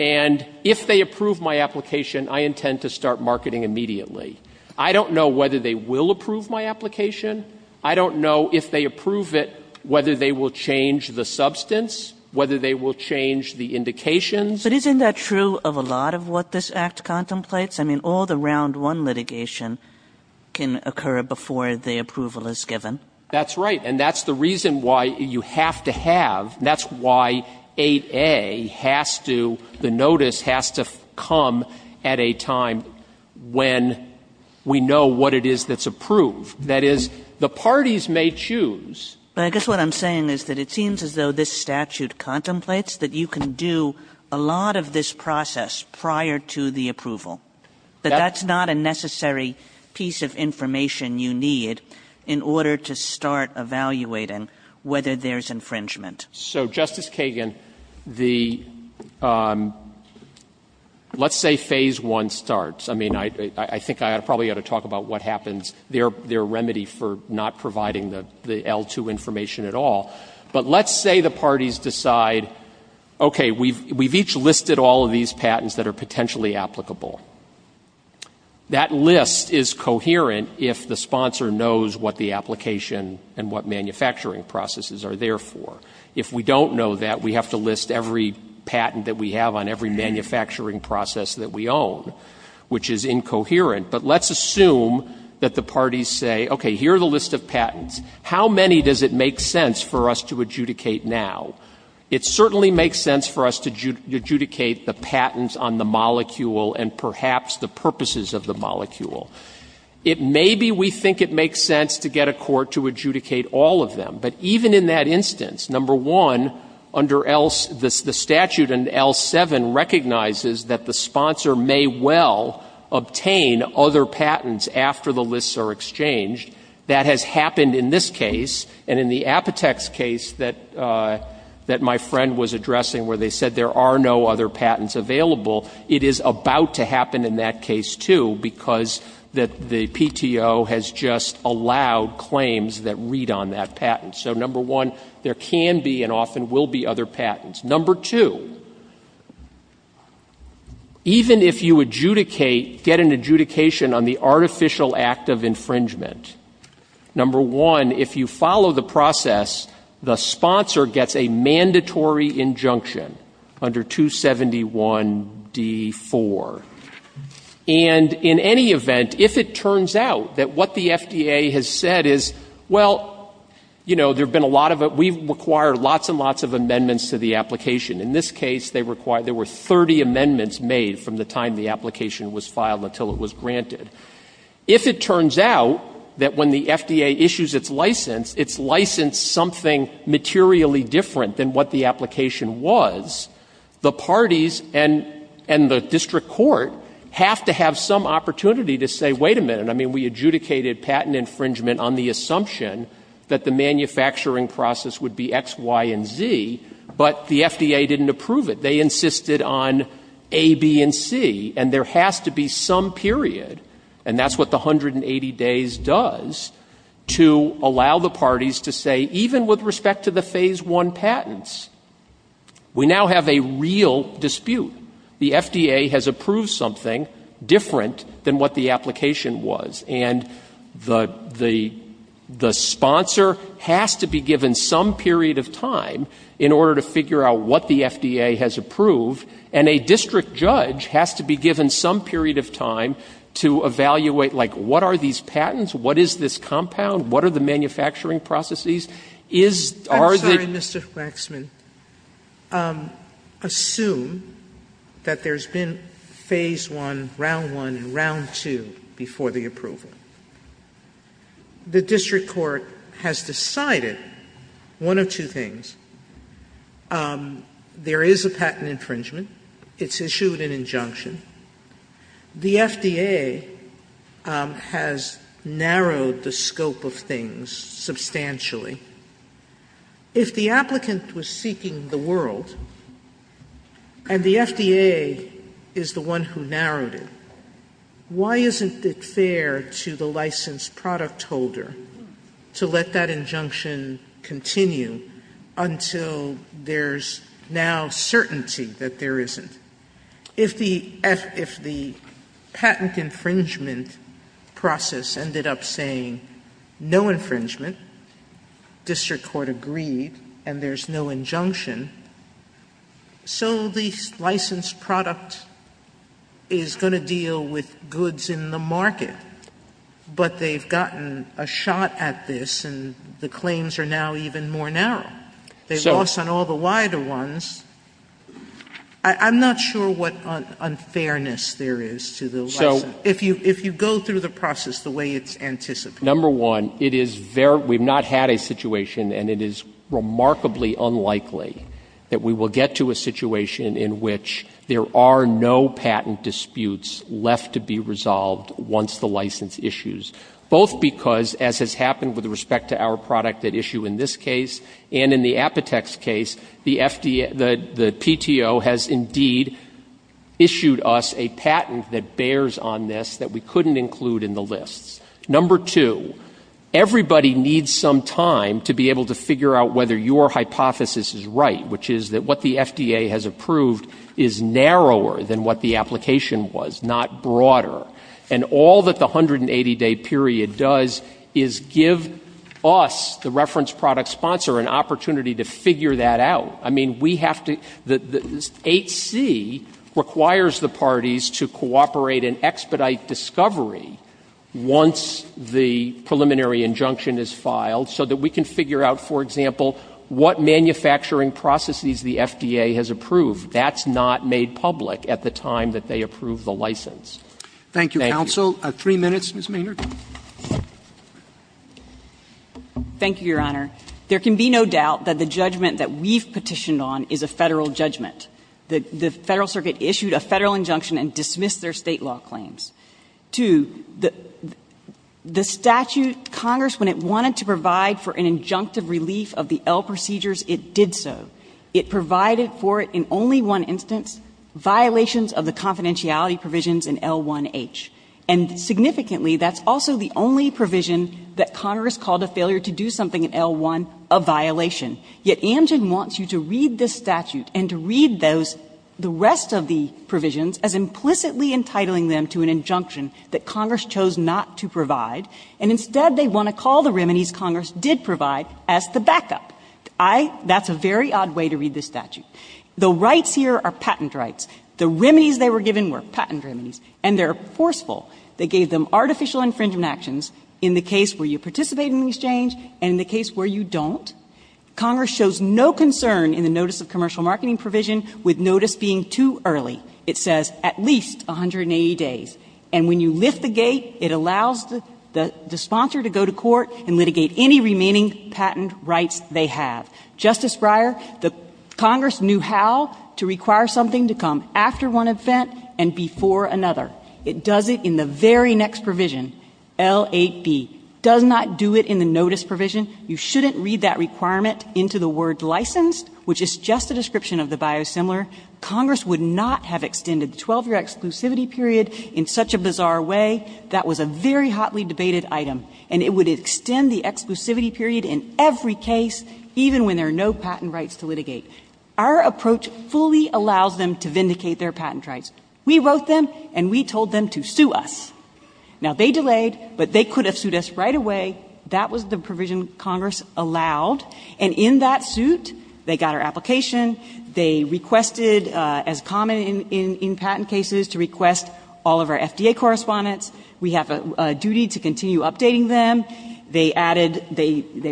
and if they approve my application, I intend to start marketing immediately. I don't know whether they will approve my application. I don't know if they approve it, whether they will change the substance, whether they will change the indications. But isn't that true of a lot of what this Act contemplates? All the round one litigation can occur before the approval is given. That's right, and that's the reason why you have to have, and that's why 8A has to, the notice has to come at a time when we know what it is that's approved. That is, the parties may choose. I guess what I'm saying is that it seems as though this statute contemplates that you can do a lot of this process prior to the approval. But that's not a necessary piece of information you need in order to start evaluating whether there's infringement. So, Justice Kagan, the, let's say Phase I starts. I mean, I think I probably ought to talk about what happens, their remedy for not providing the L2 information at all. But let's say the parties decide, okay, we've each listed all of these patents that are potentially applicable. That list is coherent if the sponsor knows what the application and what manufacturing processes are there for. If we don't know that, we have to list every patent that we have on every manufacturing process that we own, which is incoherent. But let's assume that the parties say, okay, here's a list of patents. How many does it make sense for us to adjudicate now? It certainly makes sense for us to adjudicate the patents on the molecule and perhaps the purposes of the molecule. Maybe we think it makes sense to get a court to adjudicate all of them. But even in that instance, number one, under the statute in L7 recognizes that the sponsor may well obtain other patents after the lists are exchanged. That has happened in this case and in the Apotex case that my friend was addressing where they said there are no other patents available, it is about to happen in that case too because the PTO has just allowed claims that read on that patent. So number one, there can be and often will be other patents. Number two, even if you adjudicate, get an adjudication on the artificial act of infringement, number one, if you follow the process, the sponsor gets a mandatory injunction under 273 D1 D4. And in any event, if it turns out that what the FDA has said is, well, you know, there have been a lot of it, we require lots and lots of amendments to the application. In this case, there were 30 amendments made from the time the application was filed until it was granted. If it turns out that when the FDA issues its license, it's licensed something materially different than what the application was, the parties and the district court have to have some opportunity to say, wait a minute, I mean, we adjudicated patent infringement on the assumption that the manufacturing process would be X, Y, and Z, but the FDA didn't approve it. They insisted on A, B, and C, and there has to be some period, and that's what the 180 days does, to allow the parties to say, even with respect to the Phase I patents, we now have a real dispute. The FDA has approved something different than what the application was, and the sponsor has to be given some period of time in order to figure out what the FDA has approved, and a district judge has to be given some period of time to evaluate, like, what are these patents, what is this patent infringement, what is this patent infringement. I'm sorry, Mr. Faxman. Assume that there's been Phase I, Round I, and Round II before the approval. The district court has decided one of two things. There is a patent infringement. It's issued an injunction. The FDA has narrowed the scope of things substantially. If the applicant was seeking the world, and the FDA is the one who narrowed it, why isn't it fair to the licensed product holder to let that injunction continue until there's now certainty that there isn't? If the patent infringement process ended up saying no infringement, district court agreed, and there's no injunction, so the licensed product is going to deal with goods in the market, but they've gotten a shot at this, and the claims are now even worn out. They've lost on all the wider ones. I'm not sure what unfairness there is to the license. If you go through the process the way it's anticipated. Number one, we've not had a situation, and it is remarkably unlikely that we will get to a situation in which there are no patent disputes left to be resolved once the license issues, both because, as has happened with respect to our product that issue in this case, and in the Apotex case, the PTO has indeed issued us a patent that bears on this that we couldn't include in the list. Number two, everybody needs some time to be able to figure out what the FDA period does, is give us the reference product sponsor an opportunity to figure that out. I mean, we have to, HC requires the parties to cooperate and expedite discovery once the preliminary injunction is filed so that we can figure out, for example, what manufacturing processes the FDA has place. Thank you. Thank you, Your Honor. There can be no doubt that the judgment that we've petitioned on is a federal judgment. The Federal Circuit issued a federal injunction and dismissed their state law claims. Two, the statute, Congress, when it wanted to provide for an injunctive relief of the L procedures, it did so. It provided for it in only one instance, violations of the confidentiality provisions in L1H. And significantly, that's also the only provision that Congress called a failure to do something in L1, a violation. Yet Amgen wants you to read the statute and to read the rest of the provisions as implicitly entitling them to an injunction that provisions in L1. So that's the way to read the statute. The rights here are patent rights. The remedies they were patent remedies and they're forceful. They gave them artificial infringement actions in the case where you participate in the exchange and in the case where you don't. Congress shows no concern in the notice of commercial marketing provision with notice being too early. It says at least 180 days. And when you lift the gate it allows the sponsor to go to court and litigate any remaining patent rights they have. Justice Breyer, Congress knew how to require something to come after one event and before another. It does it in the very next provision. L8B does not do it in the notice provision. You shouldn't read that requirement into the word license which is just the description of the biosimilar. Congress would not have extended 12 year exclusivity period in such a bizarre way. That was a very hotly debated item. And it would extend the exclusivity period in every case there are no patent rights to litigate. Our approach fully allows them to vindicate their patent rights. We wrote them and told them to sue us. They delayed but they could have sued us right away. That was the provision Congress allowed. In that suit they got our application, they requested as common in patent cases to request all of our F.D.A. correspondence. We have a duty to continue updating them. They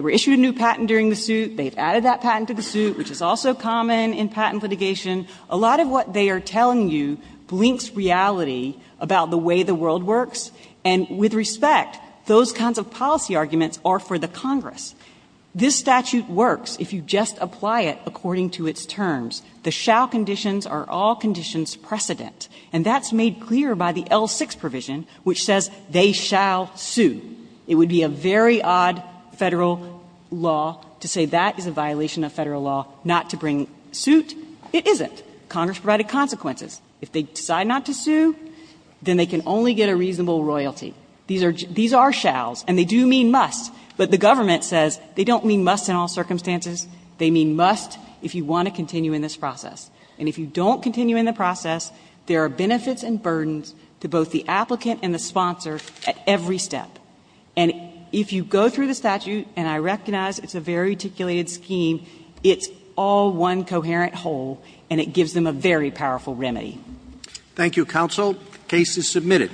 were issued a new patent during the suit. They added that patent to the suit which is also common in patent litigation. A lot of what they are telling you blinks reality about the way the world works and with respect those kinds of policy arguments are for the Congress. This statute works if you just apply it according to its terms. The shall conditions are all conditions precedent. That is made clear by the L6 provision which says they shall sue. It would be a very odd federal law to say you can only get a reasonable royalty. These are shalls. The government says they don't mean must in all circumstances. They mean must if you want to continue in this process. If you don't continue in the process there are benefits and burdens to both the applicant and the sponsor at every step. If you go through the statute and I recognize it is a very articulated scheme it is all one coherent whole and it gives them a very powerful remedy. Thank you counsel. Case is submitted.